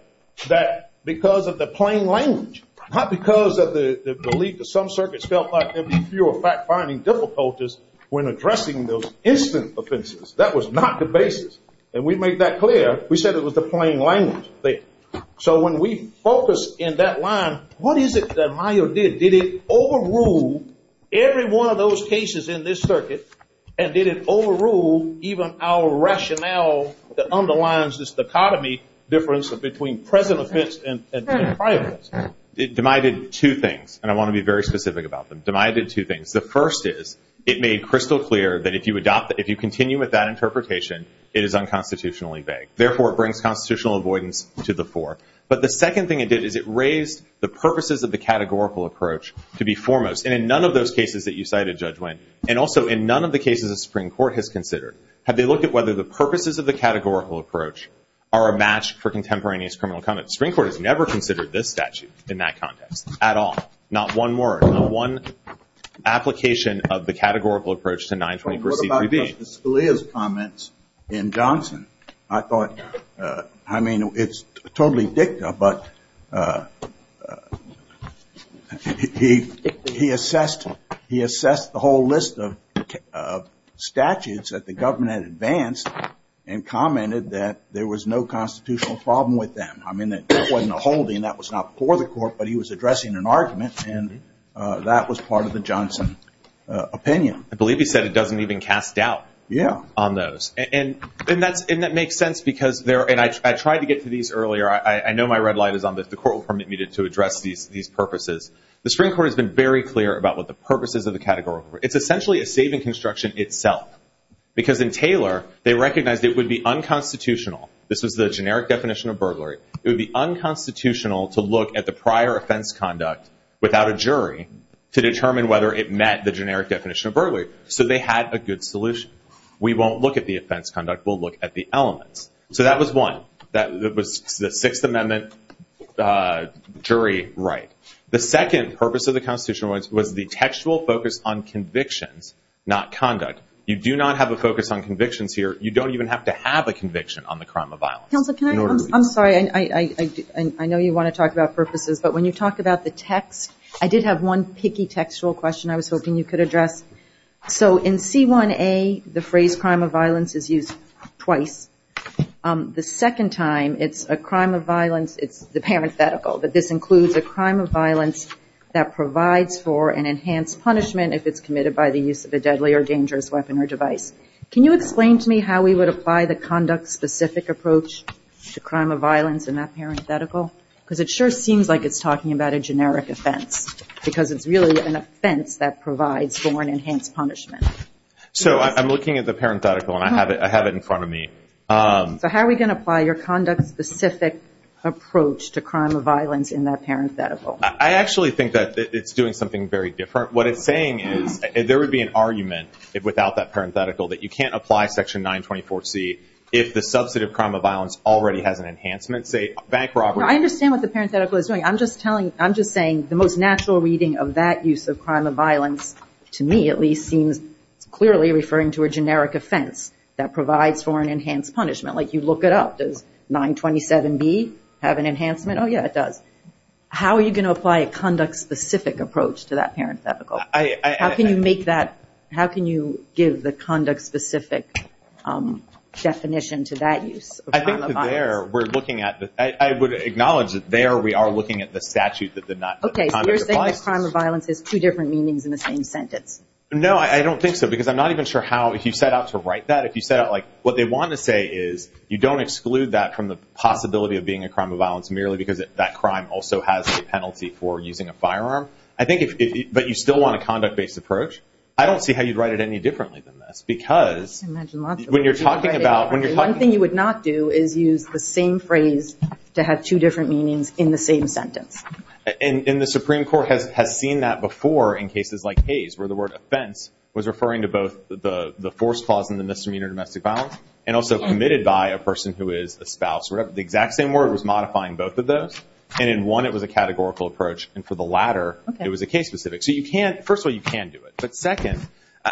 that because of the plain language, not because of the belief that some circuits felt like there'd be fewer fact-finding difficulties when addressing those instant offenses. That was not the basis. And we made that clear. We said it was the plain language thing. So when we focus in that line, what is it that Maio did? Did it overrule every one of those cases in this circuit, and did it overrule even our rationale that underlines this dichotomy difference between present offense and prior offense? DiMaio did two things, and I want to be very specific about them. DiMaio did two things. The first is it made crystal clear that if you continue with that interpretation, it is unconstitutionally vague. Therefore, it brings constitutional avoidance to the fore. But the second thing it did is it raised the purposes of the categorical approach to be foremost. And in none of those cases that you cited, Judge Winn, and also in none of the cases that the Supreme Court has considered, have they looked at whether the purposes of the categorical approach are a match for contemporaneous criminal conduct. The Supreme Court has never considered this statute in that context at all. Not one word. Not one application of the categorical approach to 921 C.Q.B. What about Justice Scalia's comments in Johnson? I mean, it's totally dicta, but he assessed the whole list of statutes that the government advanced and commented that there was no constitutional problem with that. I mean, it wasn't a holding. That was not for the court, but he was addressing an argument, and that was part of the Johnson opinion. I believe he said it doesn't even cast doubt on those. And that makes sense because there are, and I tried to get to these earlier. I know my red light is on this. The court will permit me to address these purposes. The Supreme Court has been very clear about what the purposes of the categorical approach. It's essentially a saving construction itself because in Taylor, they recognized it would be unconstitutional. This was the generic definition of burglary. It would be unconstitutional to look at the prior offense conduct without a jury to determine whether it met the generic definition of burglary. So they had a good solution. We won't look at the offense conduct. We'll look at the element. So that was one. That was the Sixth Amendment jury right. The second purpose of the Constitution was the textual focus on conviction, not conduct. You do not have a focus on convictions here. You don't even have to have a conviction on the crime of violence. I'm sorry. I know you want to talk about purposes, but when you talk about the text, I did have one picky textual question I was hoping you could address. So in C1A, the phrase crime of violence is used twice. The second time, it's a crime of violence, the parenthetical, that this includes a crime of violence that provides for an enhanced punishment if it's committed by the use of a deadly or dangerous weapon or device. Can you explain to me how we would apply the conduct-specific approach to crime of violence in that parenthetical? Because it sure seems like it's talking about a generic offense because it's really an offense that provides for an enhanced punishment. So I'm looking at the parenthetical, and I have it in front of me. So how are we going to apply your conduct-specific approach to crime of violence in that parenthetical? I actually think that it's doing something very different. What it's saying is there would be an argument without that parenthetical that you can't apply Section 924C if the substantive crime of violence already has an enhancement state. I understand what the parenthetical is doing. I'm just saying the most natural reading of that use of crime of violence, to me at least, seems clearly referring to a generic offense that provides for an enhanced punishment. Like you look it up. Does 927B have an enhancement? Oh, yeah, it does. How are you going to apply a conduct-specific approach to that parenthetical? How can you make that – how can you give the conduct-specific definition to that use of crime of violence? I would acknowledge that there we are looking at the statute that did not – Okay, so you're saying that crime of violence has two different meanings in the same sentence. No, I don't think so because I'm not even sure how – if you set out to write that. If you set out like what they want to say is you don't exclude that from the possibility of being a crime of violence merely because that crime also has a penalty for using a firearm. I think if – but you still want a conduct-based approach. I don't see how you'd write it any differently than this because when you're talking about – One thing you would not do is use the same phrase to have two different meanings in the same sentence. And the Supreme Court has seen that before in cases like Hayes where the word offense was referring to both the force clause in the misdemeanor domestic violence and also submitted by a person who is a spouse. The exact same word was modifying both of those. And in one, it was a categorical approach. And for the latter, it was a case-specific. So you can't – first of all, you can't do it. But second,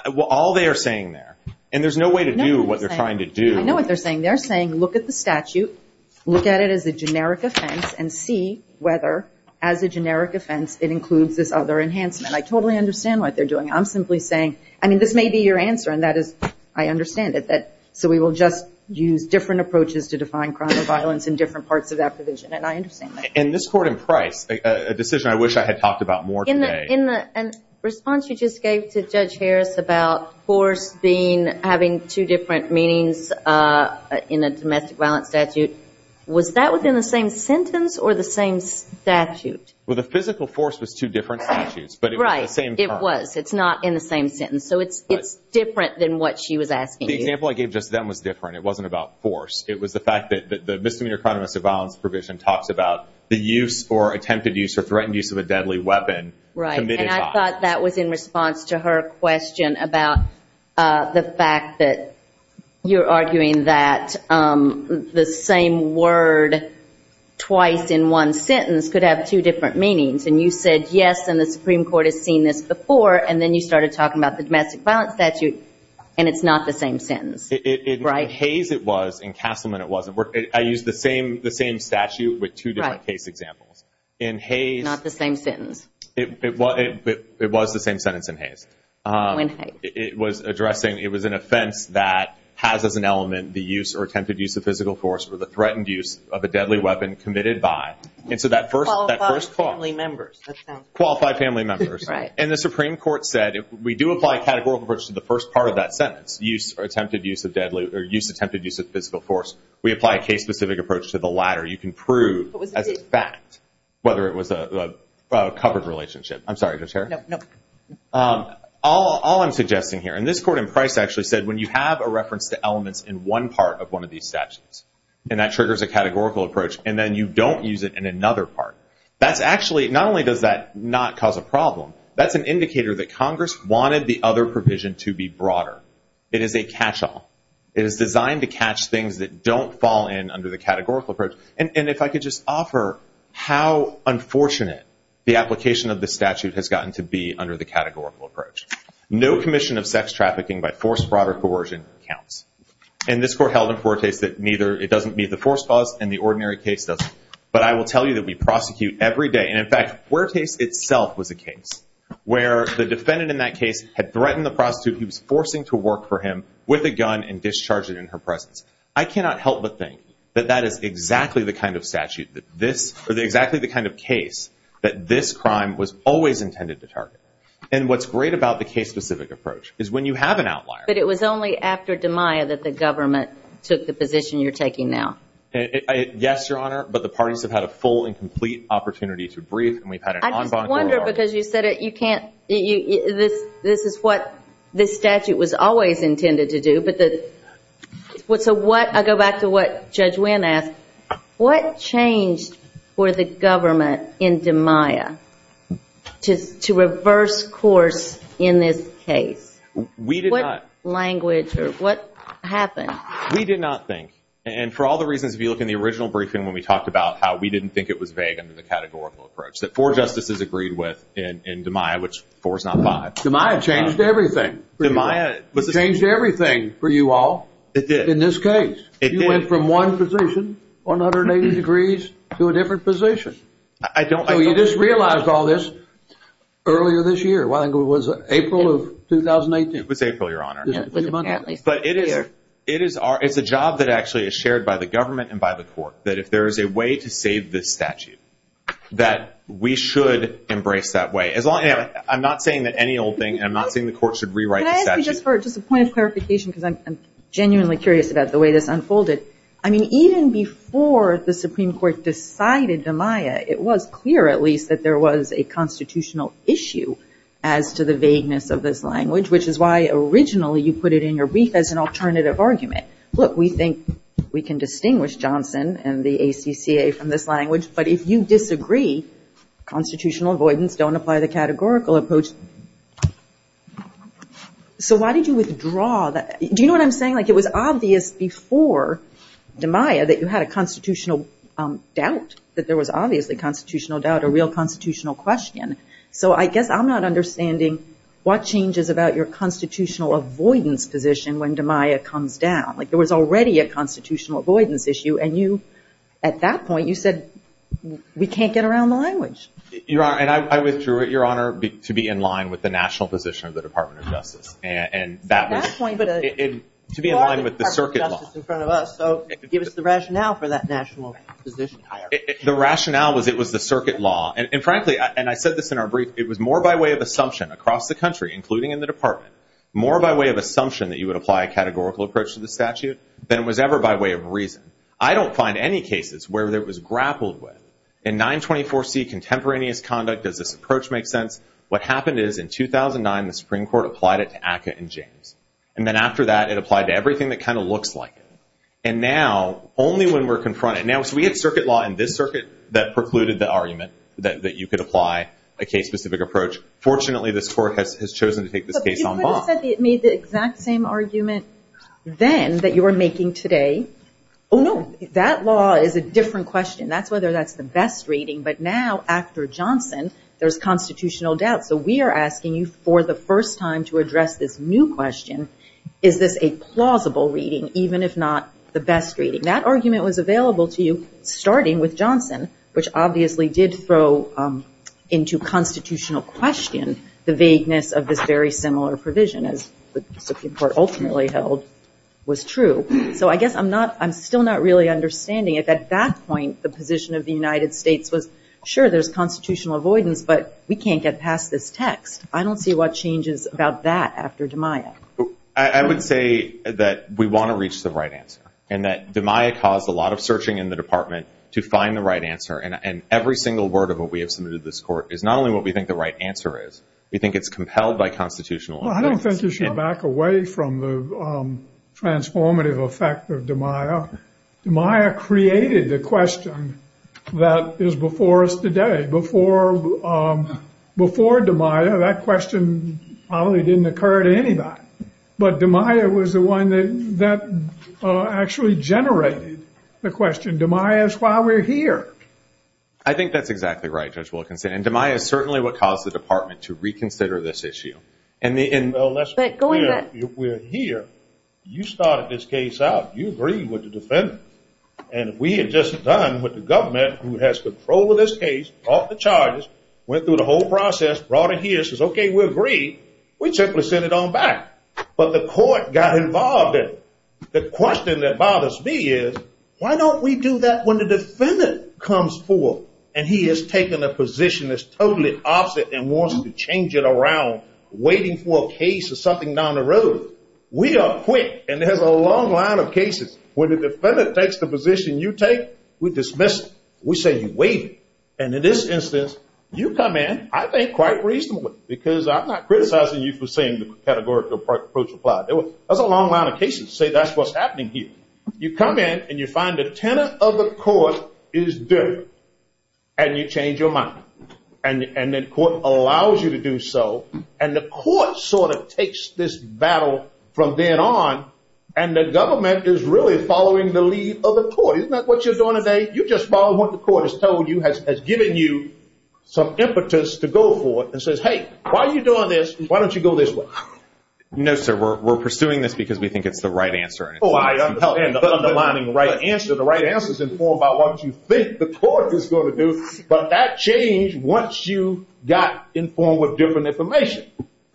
all they are saying there – and there's no way to do what they're trying to do. I know what they're saying. They're saying look at the statute, look at it as a generic offense, and see whether, as a generic offense, it includes this other enhancement. I totally understand what they're doing. I'm simply saying – I mean, this may be your answer, and that is – I understand it. So we will just use different approaches to define crime of violence in different parts of that provision, and I understand that. In this court in Price, a decision I wish I had talked about more today. In the response you just gave to Judge Harris about force being – having two different meanings in a domestic violence statute, was that within the same sentence or the same statute? Well, the physical force was two different statutes, but it was the same term. Right. It was. It's not in the same sentence. So it's different than what she was asking you. The example I gave just then was different. It wasn't about force. It was the fact that the misdemeanor crime of domestic violence provision talks about the use or attempted use or threatened use of a deadly weapon. Right. And I thought that was in response to her question about the fact that you're arguing that the same word twice in one sentence could have two different meanings. And you said yes, and the Supreme Court had seen this before, and then you started talking about the domestic violence statute, and it's not the same sentence. Right. In Hayes, it was. In Castleman, it wasn't. I used the same statute with two different case examples. In Hayes – Not the same sentence. It was the same sentence in Hayes. In Hayes. It was addressing – it was an offense that has as an element the use or attempted use of physical force for the threatened use of a deadly weapon committed by. And so that first – Qualified family members. Qualified family members. Right. And the Supreme Court said if we do apply a categorical approach to the first part of that sentence, used or attempted use of deadly – or used or attempted use of physical force, we apply a case-specific approach to the latter. You can prove as a fact whether it was a covered relationship. I'm sorry. I just heard. No, no. All I'm suggesting here, and this court in Price actually said when you have a reference to elements in one part of one of these statutes, and that triggers a categorical approach, and then you don't use it in another part. That's actually – not only does that not cause a problem, that's an indicator that Congress wanted the other provision to be broader. It is a catch-all. It is designed to catch things that don't fall in under the categorical approach. And if I could just offer how unfortunate the application of the statute has gotten to be under the categorical approach. No commission of sex trafficking by force, fraud, or coercion counts. And this court held in Fuertes that neither – it doesn't meet the force clause, and the ordinary case doesn't. But I will tell you that we prosecute every day. And, in fact, Fuertes itself was the case where the defendant in that case had threatened the prosecutor who was forcing to work for him with a gun and discharged it in her presence. I cannot help but think that that is exactly the kind of statute that this – or exactly the kind of case that this crime was always intended to target. And what's great about the case-specific approach is when you have an outlier. But it was only after DiMaio that the government took the position you're taking now. Yes, Your Honor, but the parties have had a full and complete opportunity to brief, and we've had an on-bonus – I just wonder, because you said it, you can't – this is what this statute was always intended to do. But the – so what – I go back to what Judge Winn asked. What changed for the government in DiMaio to reverse course in this case? We did not – What language or what happened? We did not think. And for all the reasons, if you look in the original briefing when we talked about how we didn't think it was vague under the categorical approach, that four justices agreed with in DiMaio, which four is not five. DiMaio changed everything. DiMaio changed everything for you all. It did. In this case. It did. You went from one position, 180 degrees, to a different position. I don't – So you just realized all this earlier this year. I think it was April of 2018. It was April, Your Honor. But it is our – it's a job that actually is shared by the government and by the court, that if there is a way to save this statute, that we should embrace that way. I'm not saying that any old thing, and I'm not saying the court should rewrite the statute. Can I ask you just for – just a point of clarification, because I'm genuinely curious about the way this unfolded. I mean, even before the Supreme Court decided DiMaio, it was clear, at least, that there was a constitutional issue as to the vagueness of this language, which is why originally you put it in your brief as an alternative argument. Look, we think we can distinguish Johnson and the ACCA from this language, but if you disagree, constitutional avoidance, don't apply the categorical approach. So why did you withdraw that – do you know what I'm saying? Like, it was obvious before DiMaio that you had a constitutional doubt, that there was obviously a constitutional doubt, a real constitutional question. So I guess I'm not understanding what changes about your constitutional avoidance position when DiMaio comes down. Like, there was already a constitutional avoidance issue, and you – at that point you said we can't get around the language. Your Honor, and I withdrew it, Your Honor, to be in line with the national position of the Department of Justice. And that was – Actually, but – To be in line with the circuit law. So give us the rationale for that national position. The rationale was it was the circuit law. And frankly – and I said this in our brief – it was more by way of assumption across the country, including in the Department, more by way of assumption that you would apply a categorical approach to the statute than it was ever by way of reason. I don't find any cases where it was grappled with. In 924C, contemporaneous conduct, does this approach make sense? What happened is, in 2009, the Supreme Court applied it to ACCA and James. And then after that, it applied to everything that kind of looks like it. And now, only when we're confronted – now, if we had circuit law in this circuit that precluded the argument that you could apply a case-specific approach, fortunately this Court has chosen to take the case en bas. I thought you said it made the exact same argument then that you were making today. Oh, no. That law is a different question. That's whether that's the best reading. But now, after Johnson, there's constitutional doubt. So we are asking you for the first time to address this new question. Is this a plausible reading, even if not the best reading? That argument was available to you starting with Johnson, which obviously did into constitutional questions, the vagueness of this very similar provision, as the Supreme Court ultimately held was true. So I guess I'm still not really understanding. At that point, the position of the United States was, sure, there's constitutional avoidance, but we can't get past this text. I don't see what changes about that after DeMaio. I would say that we want to reach the right answer and that DeMaio caused a lot of searching in the department to find the right answer. And every single word of what we have submitted to this court is not only what we think the right answer is. We think it's compelled by constitutional. I don't think you should back away from the transformative effect of DeMaio. DeMaio created the question that is before us today. Before DeMaio, that question probably didn't occur to anybody. But DeMaio was the one that actually generated the question. And DeMaio is why we're here. I think that's exactly right, Judge Wilkinson. And DeMaio is certainly what caused the department to reconsider this issue. Let's be clear. We're here. You started this case out. You agreed with the defendant. And we had just done with the government, who has control of this case, brought the charges, went through the whole process, brought it here, says, okay, we agree. We simply send it on back. But the court got involved in it. The question that bothers me is, why don't we do that when the defendant comes forward and he has taken a position that's totally opposite and wants to change it around, waiting for a case or something down the road? We are quick, and there's a long line of cases. When the defendant takes the position you take, we dismiss it. We say, wait. And in this instance, you come in, I think, quite reasonably, because I'm not criticizing you for saying the categorical approach applied. There's a long line of cases to say that's what's happening here. You come in and you find the tenant of the court is different, and you change your mind. And the court allows you to do so. And the court sort of takes this battle from then on, and the government is really following the lead of the court. Isn't that what you're doing today? You're just following what the court has told you, has given you some impetus to go for, and says, hey, why are you doing this, and why don't you go this way? No, sir. We're pursuing this because we think it's the right answer. Oh, I understand. The right answer is informed about what you think the court is going to do, but that changed once you got informed with different information.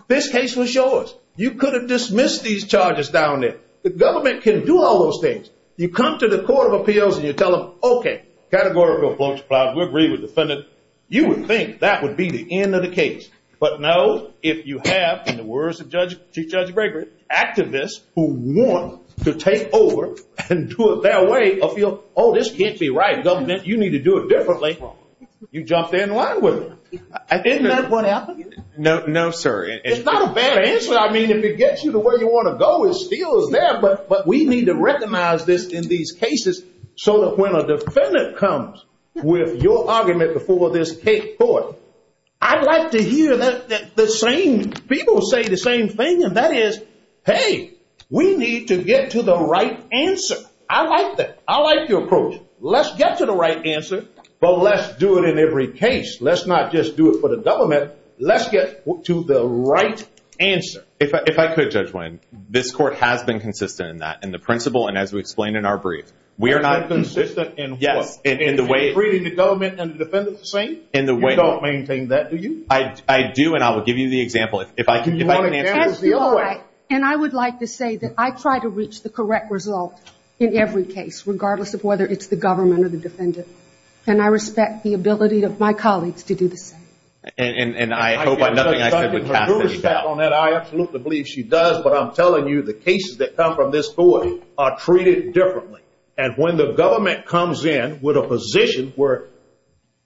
This case was yours. You could have dismissed these charges down there. The government can do all those things. You come to the court of appeals and you tell them, okay, categorical approach applied. We agree with the defendant. You would think that would be the end of the case. But no, if you have, in the words of Judge Gregory, activists who want to take over and do it their way, appeal, oh, this can't be right. Government, you need to do it differently. You jump in line with them. Isn't that what happened? No, sir. It's not a bad answer. I mean, if it gets you to where you want to go, it's still there, but we need to recognize this in these cases so that when a defendant comes with your argument before this case court, I'd like to hear the same people say the same thing, and that is, hey, we need to get to the right answer. I like that. I like your approach. Let's get to the right answer, but let's do it in every case. Let's not just do it for the government. Let's get to the right answer. If I could, Judge Wayne, this court has been consistent in that, in the principle and as we explained in our brief. Consistent in what? In treating the government and the defendant the same? You don't maintain that, do you? I do, and I will give you the example. If I can give you an example. And I would like to say that I try to reach the correct result in every case, regardless of whether it's the government or the defendant, and I respect the ability of my colleagues to do the same. And I hope I'm not saying I can't do the same. I absolutely believe she does, but I'm telling you, the cases that come from this court are treated differently. And when the government comes in with a position where,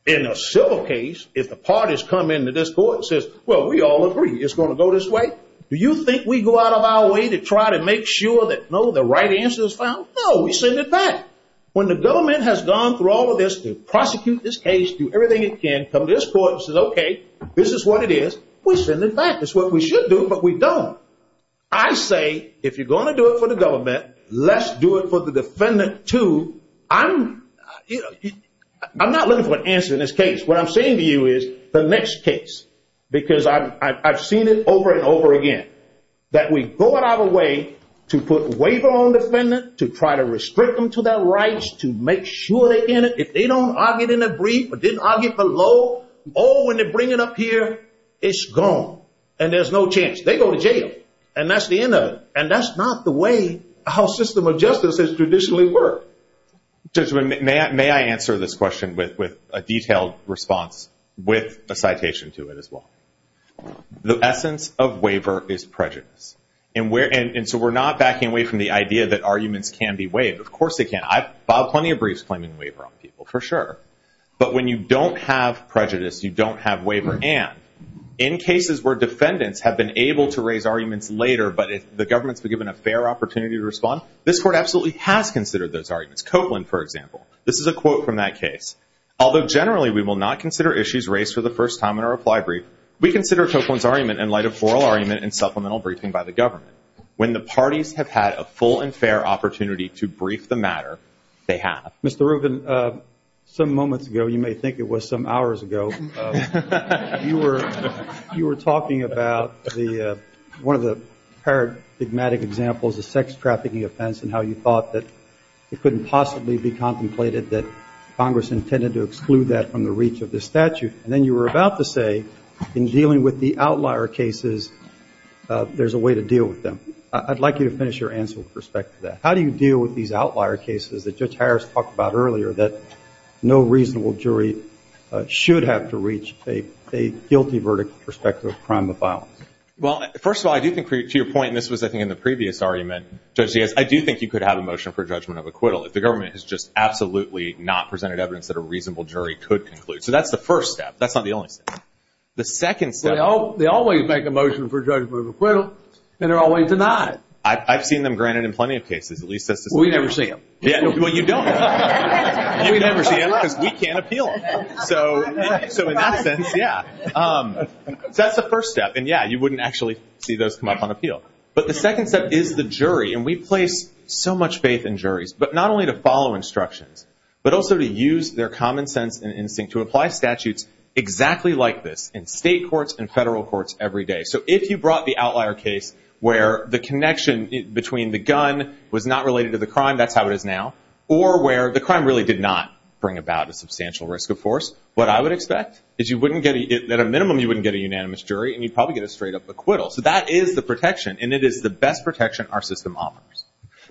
in a civil case, if the parties come into this court and says, well, we all agree it's going to go this way, do you think we go out of our way to try to make sure that, no, the right answer is found? No, we send it back. When the government has gone through all of this to prosecute this case, do everything it can, come to this court and says, okay, this is what it is, we send it back. It's what we should do, but we don't. I say, if you're going to do it for the government, let's do it for the defendant, too. I'm not looking for an answer in this case. What I'm saying to you is, the next case, because I've seen it over and over again, that we go out of our way to put a waiver on the defendant, to try to restrict them to their rights, to make sure they're in it. If they don't argue in a brief or didn't argue below, or when they bring it up here, it's gone and there's no chance. They go to jail, and that's the end of it, and that's not the way our system of justice has traditionally worked. May I answer this question with a detailed response with a citation to it as well? The essence of waiver is prejudice, and so we're not backing away from the idea that arguments can be waived. Of course they can. I've filed plenty of briefs claiming waiver on people, for sure. But when you don't have prejudice, you don't have waiver, and in cases where defendants have been able to raise arguments later, but the government's been given a fair opportunity to respond, this Court absolutely has considered those arguments. Copeland, for example, this is a quote from that case. Although generally we will not consider issues raised for the first time in a reply brief, we consider Copeland's argument in light of oral argument and supplemental briefing by the government. When the parties have had a full and fair opportunity to brief the matter, they have. Mr. Rubin, some moments ago, you may think it was some hours ago, you were talking about one of the paradigmatic examples of sex trafficking offense and how you thought that it couldn't possibly be contemplated that Congress intended to exclude that from the reach of the statute. And then you were about to say, in dealing with the outlier cases, there's a way to deal with them. I'd like you to finish your answer with respect to that. How do you deal with these outlier cases that Judge Harris talked about earlier, that no reasonable jury should have to reach a guilty verdict with respect to a crime of violence? Well, first of all, I do think, to your point, and this was I think in the previous argument, Judge, I do think you could have a motion for judgment of acquittal if the government has just absolutely not presented evidence that a reasonable jury could conclude. So that's the first step. That's not the only step. They always make a motion for judgment of acquittal, and they're always denied. I've seen them granted in plenty of cases. We never see them. Well, you don't. You never see them because we can't appeal them. So in that sense, yeah. That's the first step. And, yeah, you wouldn't actually see those come up on appeal. But the second step is the jury. And we place so much faith in juries, but not only to follow instructions, but also to use their common sense and to apply statutes exactly like this in state courts and federal courts every day. So if you brought the outlier case where the connection between the gun was not related to the crime, that's how it is now, or where the crime really did not bring about a substantial risk of force, what I would expect is at a minimum you wouldn't get a unanimous jury, and you'd probably get a straight up acquittal. So that is the protection, and it is the best protection our system offers.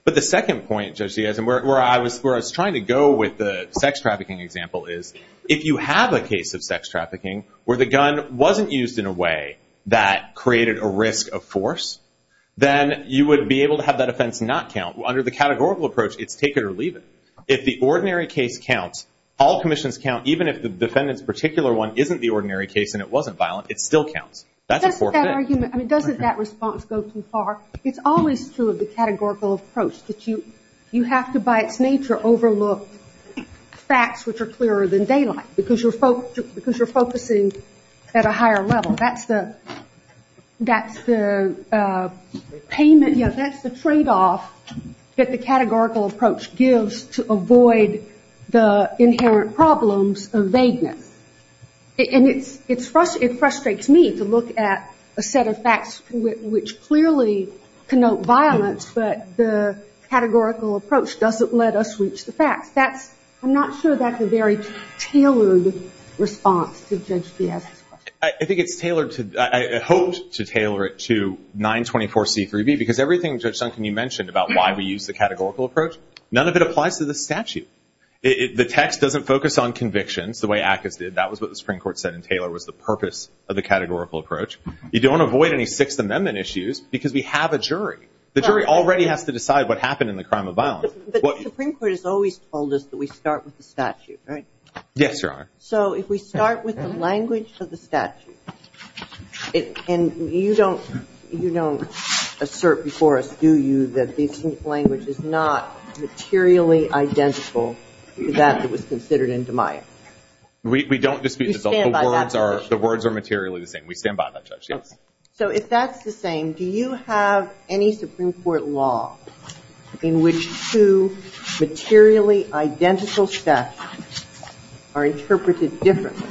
But the second point, Judge Gadsden, where I was trying to go with the sex trafficking example is if you have a case of sex trafficking where the gun wasn't used in a way that created a risk of force, then you would be able to have that offense not count. Under the categorical approach, it's take it or leave it. If the ordinary case counts, all commissions count, even if the defendant's particular one isn't the ordinary case and it wasn't violent, it still counts. That's a fourth thing. I mean, doesn't that response go too far? It's always true of the categorical approach that you have to, by its nature, overlook facts which are clearer than daylight because you're focusing at a higher level. That's the payment. You know, that's the tradeoff that the categorical approach gives to avoid the inherent problems of vagueness. And it frustrates me to look at a set of facts which clearly connote violence, but the categorical approach doesn't let us reach the facts. I'm not sure that's a very tailored response to Judge Gadsden. I think it's tailored to, I hope to tailor it to 924C3B because everything, Judge Duncan, you mentioned about why we use the categorical approach, none of it applies to the statute. The text doesn't focus on convictions the way ACCA did. That was what the Supreme Court said in Taylor was the purpose of the categorical approach. You don't avoid any Sixth Amendment issues because we have a jury. The jury already has to decide what happened in the crime of violence. The Supreme Court has always told us that we start with the statute, right? Yes, Your Honor. So if we start with the language of the statute, and you don't assert before us, do you, that the language is not materially identical to that that was considered indeminant? We don't dispute that. The words are materially the same. We stand by that. So if that's the thing, do you have any Supreme Court law in which two materially identical statutes are interpreted differently,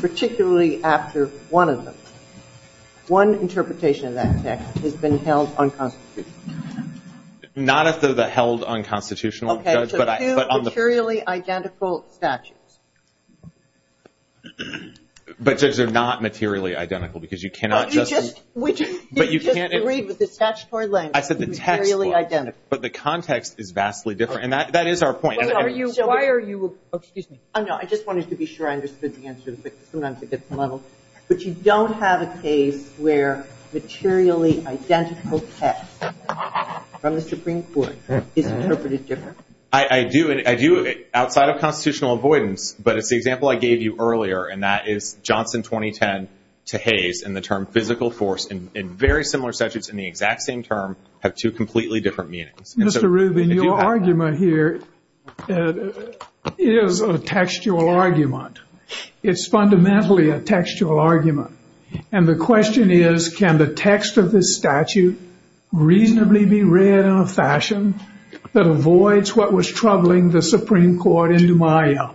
particularly after one of them? One interpretation of that text has been held unconstitutional. Not as though they're held unconstitutional. Okay, so two materially identical statutes. But, Judge, they're not materially identical because you cannot just. We just agreed that the statutory language is materially identical. But the context is vastly different. And that is our point. Excuse me. I just wanted to be sure I understood the answer. But you don't have a case where materially identical text from the Supreme Court is interpreted differently. I do. Outside of constitutional avoidance. But if the example I gave you earlier, and that is Johnson 2010 to Hayes, and the term physical force in very similar statutes in the exact same term, have two completely different meanings. Mr. Rubin, your argument here is a textual argument. It's fundamentally a textual argument. And the question is, can the text of this statute reasonably be read in a fashion that avoids what was troubling the Supreme Court in DeMaio?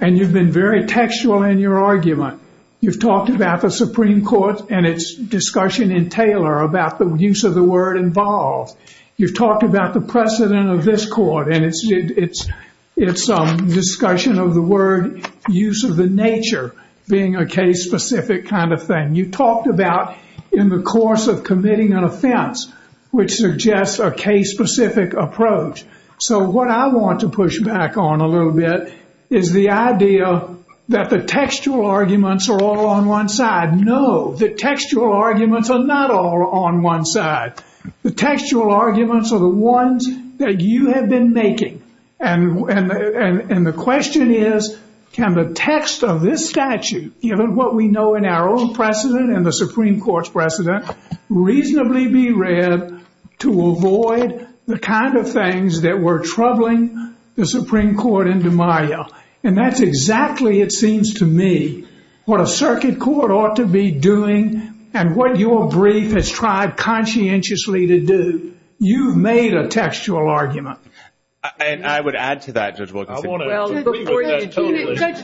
And you've been very textual in your argument. You've talked about the Supreme Court and its discussion in Taylor about the use of the word involved. You've talked about the precedent of this court and its discussion of the word use of the nature being a case-specific kind of thing. You've talked about in the course of committing an offense, which suggests a case-specific approach. So what I want to push back on a little bit is the idea that the textual arguments are all on one side. No, the textual arguments are not all on one side. The textual arguments are the ones that you have been making. And the question is, can the text of this statute, given what we know in our own precedent and the Supreme Court's precedent, reasonably be read to avoid the kind of things that were troubling the Supreme Court in DeMaio? And that's exactly, it seems to me, what a circuit court ought to be doing and what your brief has tried conscientiously to do. You've made a textual argument. And I would add to that, Judge Wilkinson. Judge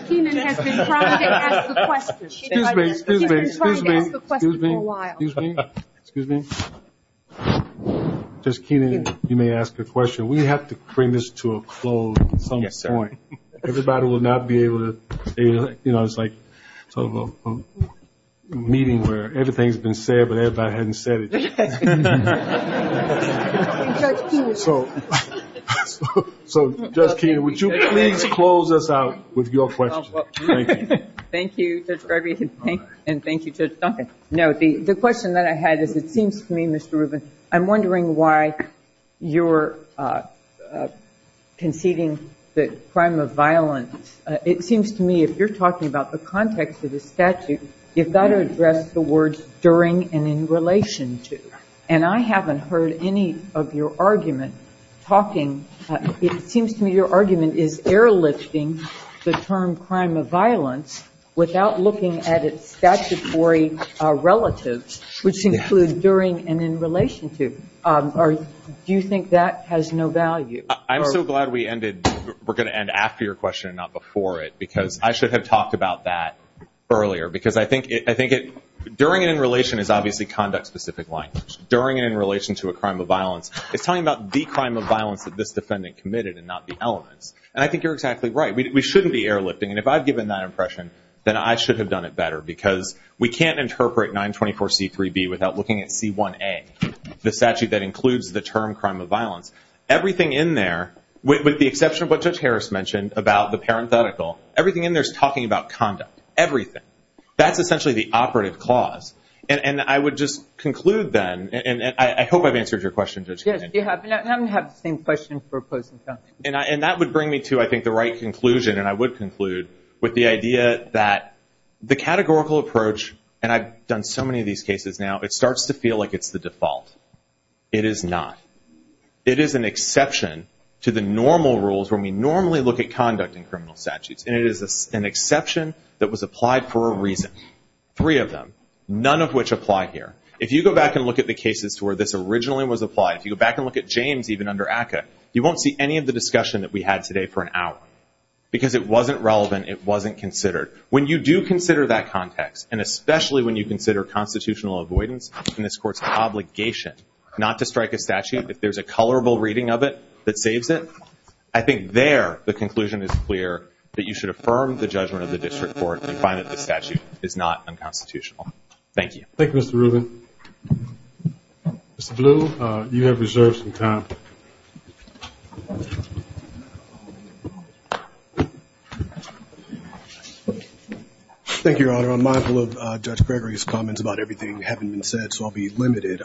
Keenan has been trying to ask a question. She's been trying to ask a question for a while. Excuse me. Excuse me. Judge Keenan, you may ask a question. We have to bring this to a close at some point. Everybody will not be able to say, you know, it's like a meeting where everything's been said, but everybody hasn't said it. So, Judge Keenan, would you please close us out with your question? Thank you. Thank you, Judge Gregory. And thank you, Judge Duncan. No, the question that I had is, it seems to me, Mr. Rubin, I'm wondering why you're conceding the crime of violence. It seems to me, if you're talking about the context of the statute, you've got to address the words during and in relation to. And I haven't heard any of your argument talking. It seems to me your argument is airlifting the term crime of violence without looking at its statutory relatives, which include during and in relation to. Do you think that has no value? I'm so glad we're going to end after your question and not before it, because I should have talked about that earlier. Because I think during and in relation is obviously conduct-specific language. During and in relation to a crime of violence, it's talking about the crime of violence that this defendant committed and not the element. And I think you're exactly right. We shouldn't be airlifting. And if I've given that impression, then I should have done it better. Because we can't interpret 924C3B without looking at C1A, the statute that includes the term crime of violence. Everything in there, with the exception of what Judge Harris mentioned, about the parenthetical, everything in there is talking about conduct. Everything. That's essentially the operative clause. And I would just conclude then, and I hope I've answered your question, Judge. Yes, you have. And I haven't had the same question for a close of time. And that would bring me to, I think, the right conclusion, and I would conclude with the idea that the categorical approach, and I've done so many of these cases now, it starts to feel like it's the default. It is not. It is an exception to the normal rules when we normally look at conduct in criminal statutes. And it is an exception that was applied for a reason, three of them, none of which apply here. If you go back and look at the cases where this originally was applied, if you go back and look at James even under ACCA, you won't see any of the discussion that we had today for an hour. Because it wasn't relevant, it wasn't considered. When you do consider that context, and especially when you consider constitutional avoidance, and this court's obligation not to strike a statute, if there's a colorable reading of it that fades it, I think there the conclusion is clear that you should affirm the judgment of the district court and find that the statute is not unconstitutional. Thank you. Thank you, Mr. Rubin. Mr. Blue, you have reserved some time. Thank you, Your Honor. I'm mindful of Judge Gregory's comments about everything having been said, so I'll be limited.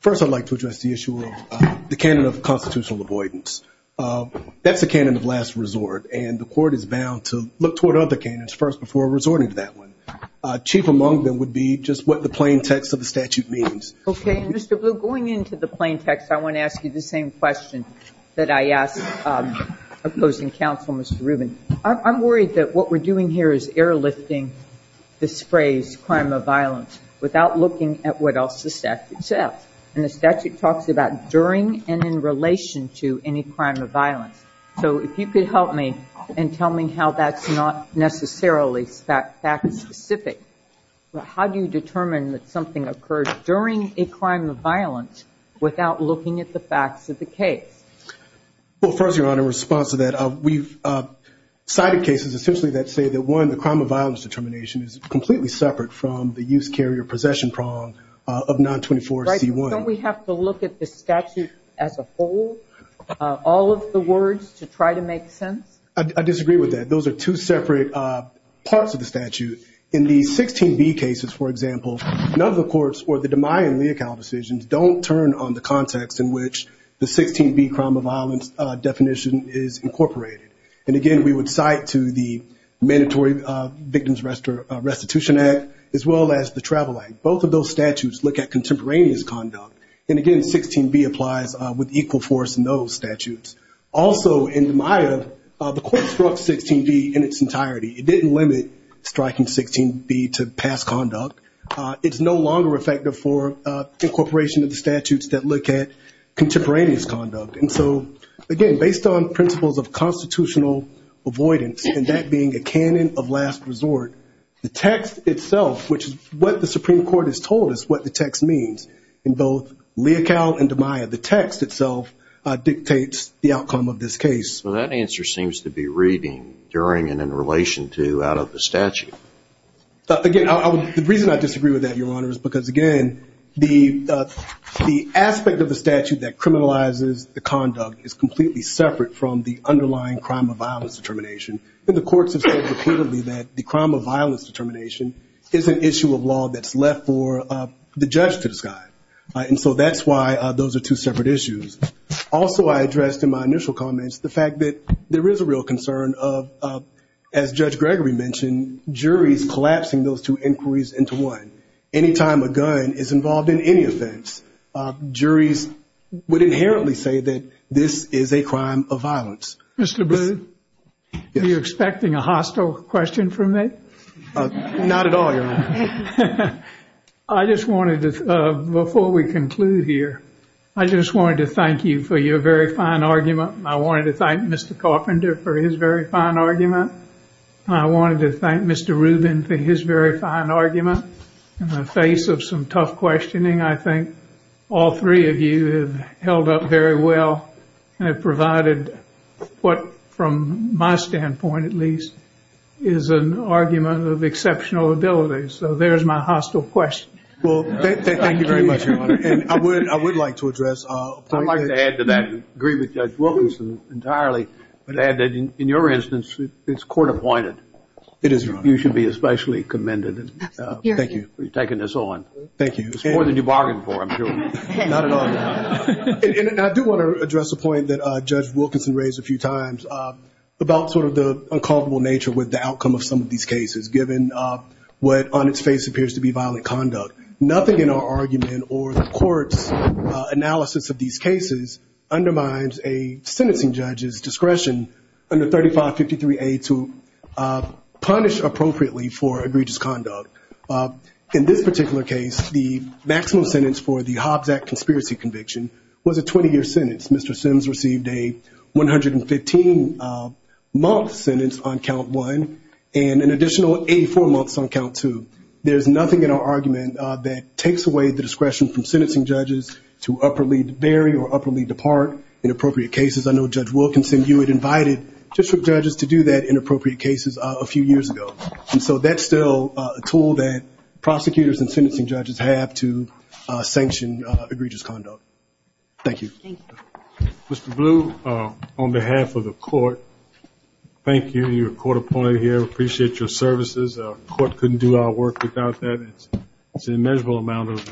First, I'd like to address the issue of the canon of constitutional avoidance. That's the canon of last resort, and the court is bound to look toward other canons first before resorting to that one. Chief among them would be just what the plain text of the statute means. Okay, Mr. Blue, going into the plain text, I want to ask you the same question that I asked opposing counsel, Mr. Rubin. I'm worried that what we're doing here is airlifting this phrase, crime of violence, without looking at what else the statute says. And the statute talks about during and in relation to any crime of violence. So if you could help me and tell me how that's not necessarily fact specific. How do you determine that something occurs during a crime of violence without looking at the facts of the case? Well, first, Your Honor, in response to that, we've cited cases essentially that say that, one, the crime of violence determination is completely separate from the use, carry, or possession prong of 924C1. Don't we have to look at the statute as a whole, all of the words to try to make sense? I disagree with that. Those are two separate parts of the statute. In the 16B cases, for example, none of the courts or the DeMuy and Leacow decisions don't turn on the And, again, we would cite to the Mandatory Victims Restitution Act, as well as the Travel Act. Both of those statutes look at contemporaneous conduct. And, again, 16B applies with equal force in those statutes. Also, in Maya, the court struck 16B in its entirety. It didn't limit striking 16B to past conduct. It's no longer effective for incorporation of the statutes that look at contemporaneous conduct. And so, again, based on principles of constitutional avoidance, and that being a canon of last resort, the text itself, which is what the Supreme Court has told us what the text means in both Leacow and DeMuy, the text itself dictates the outcome of this case. Well, that answer seems to be reading during and in relation to out of the statute. Again, the reason I disagree with that, Your Honor, is because, again, the aspect of the statute that criminalizes the conduct is completely separate from the underlying crime of violence determination. And the courts have stated clearly that the crime of violence determination is an issue of law that's left for the judge to decide. And so that's why those are two separate issues. Also, I addressed in my initial comments the fact that there is a real concern of, as Judge Gregory mentioned, juries collapsing those two inquiries into one. Any time a gun is involved in any offense, juries would inherently say that this is a crime of violence. Mr. Blue, are you expecting a hostile question from me? Not at all, Your Honor. I just wanted to, before we conclude here, I just wanted to thank you for your very fine argument. I wanted to thank Mr. Carpenter for his very fine argument. I wanted to thank Mr. Rubin for his very fine argument. In the face of some tough questioning, I think all three of you have held up very well and provided what, from my standpoint at least, is an argument of exceptional ability. So there's my hostile question. Well, thank you very much, Your Honor. I would like to address, I'd like to add to that, and I agree with Judge Wilkinson entirely, that in your instance, it's court-appointed. You should be especially commended for taking this on. Thank you. It's more than you bargained for, I'm sure. Not at all, Your Honor. And I do want to address the point that Judge Wilkinson raised a few times about sort of the uncomparable nature with the outcome of some of these cases, given what on its face appears to be violent conduct. Nothing in our argument or the court analysis of these cases undermines a sentencing judge's discretion under 3553A to punish appropriately for egregious conduct. In this particular case, the maximum sentence for the Hobbs Act conspiracy conviction was a 20-year sentence. Mr. Sims received a 115-month sentence on count one and an additional 84 months on count two. There's nothing in our argument that takes away the discretion from sentencing judges to appropriately bury or appropriately depart inappropriate cases. I know Judge Wilkinson, you had invited district judges to do that in appropriate cases a few years ago. And so that's still a tool that prosecutors and sentencing judges have to sanction egregious conduct. Thank you. Thank you. Mr. Blue, on behalf of the court, thank you. You're court-appointed here. We appreciate your services. The court couldn't do our work without that. It's an immeasurable amount of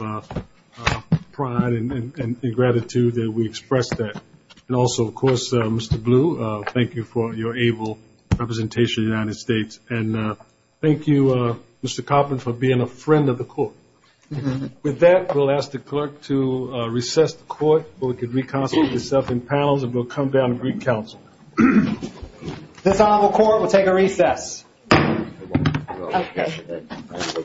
pride and gratitude that we express that. And also, of course, Mr. Blue, thank you for your able representation in the United States. And thank you, Mr. Copeland, for being a friend of the court. With that, we'll ask the clerk to recess the court so we can reconcile with yourself and panels, and we'll come down and re-counsel. This honorable court will take a recess. Okay.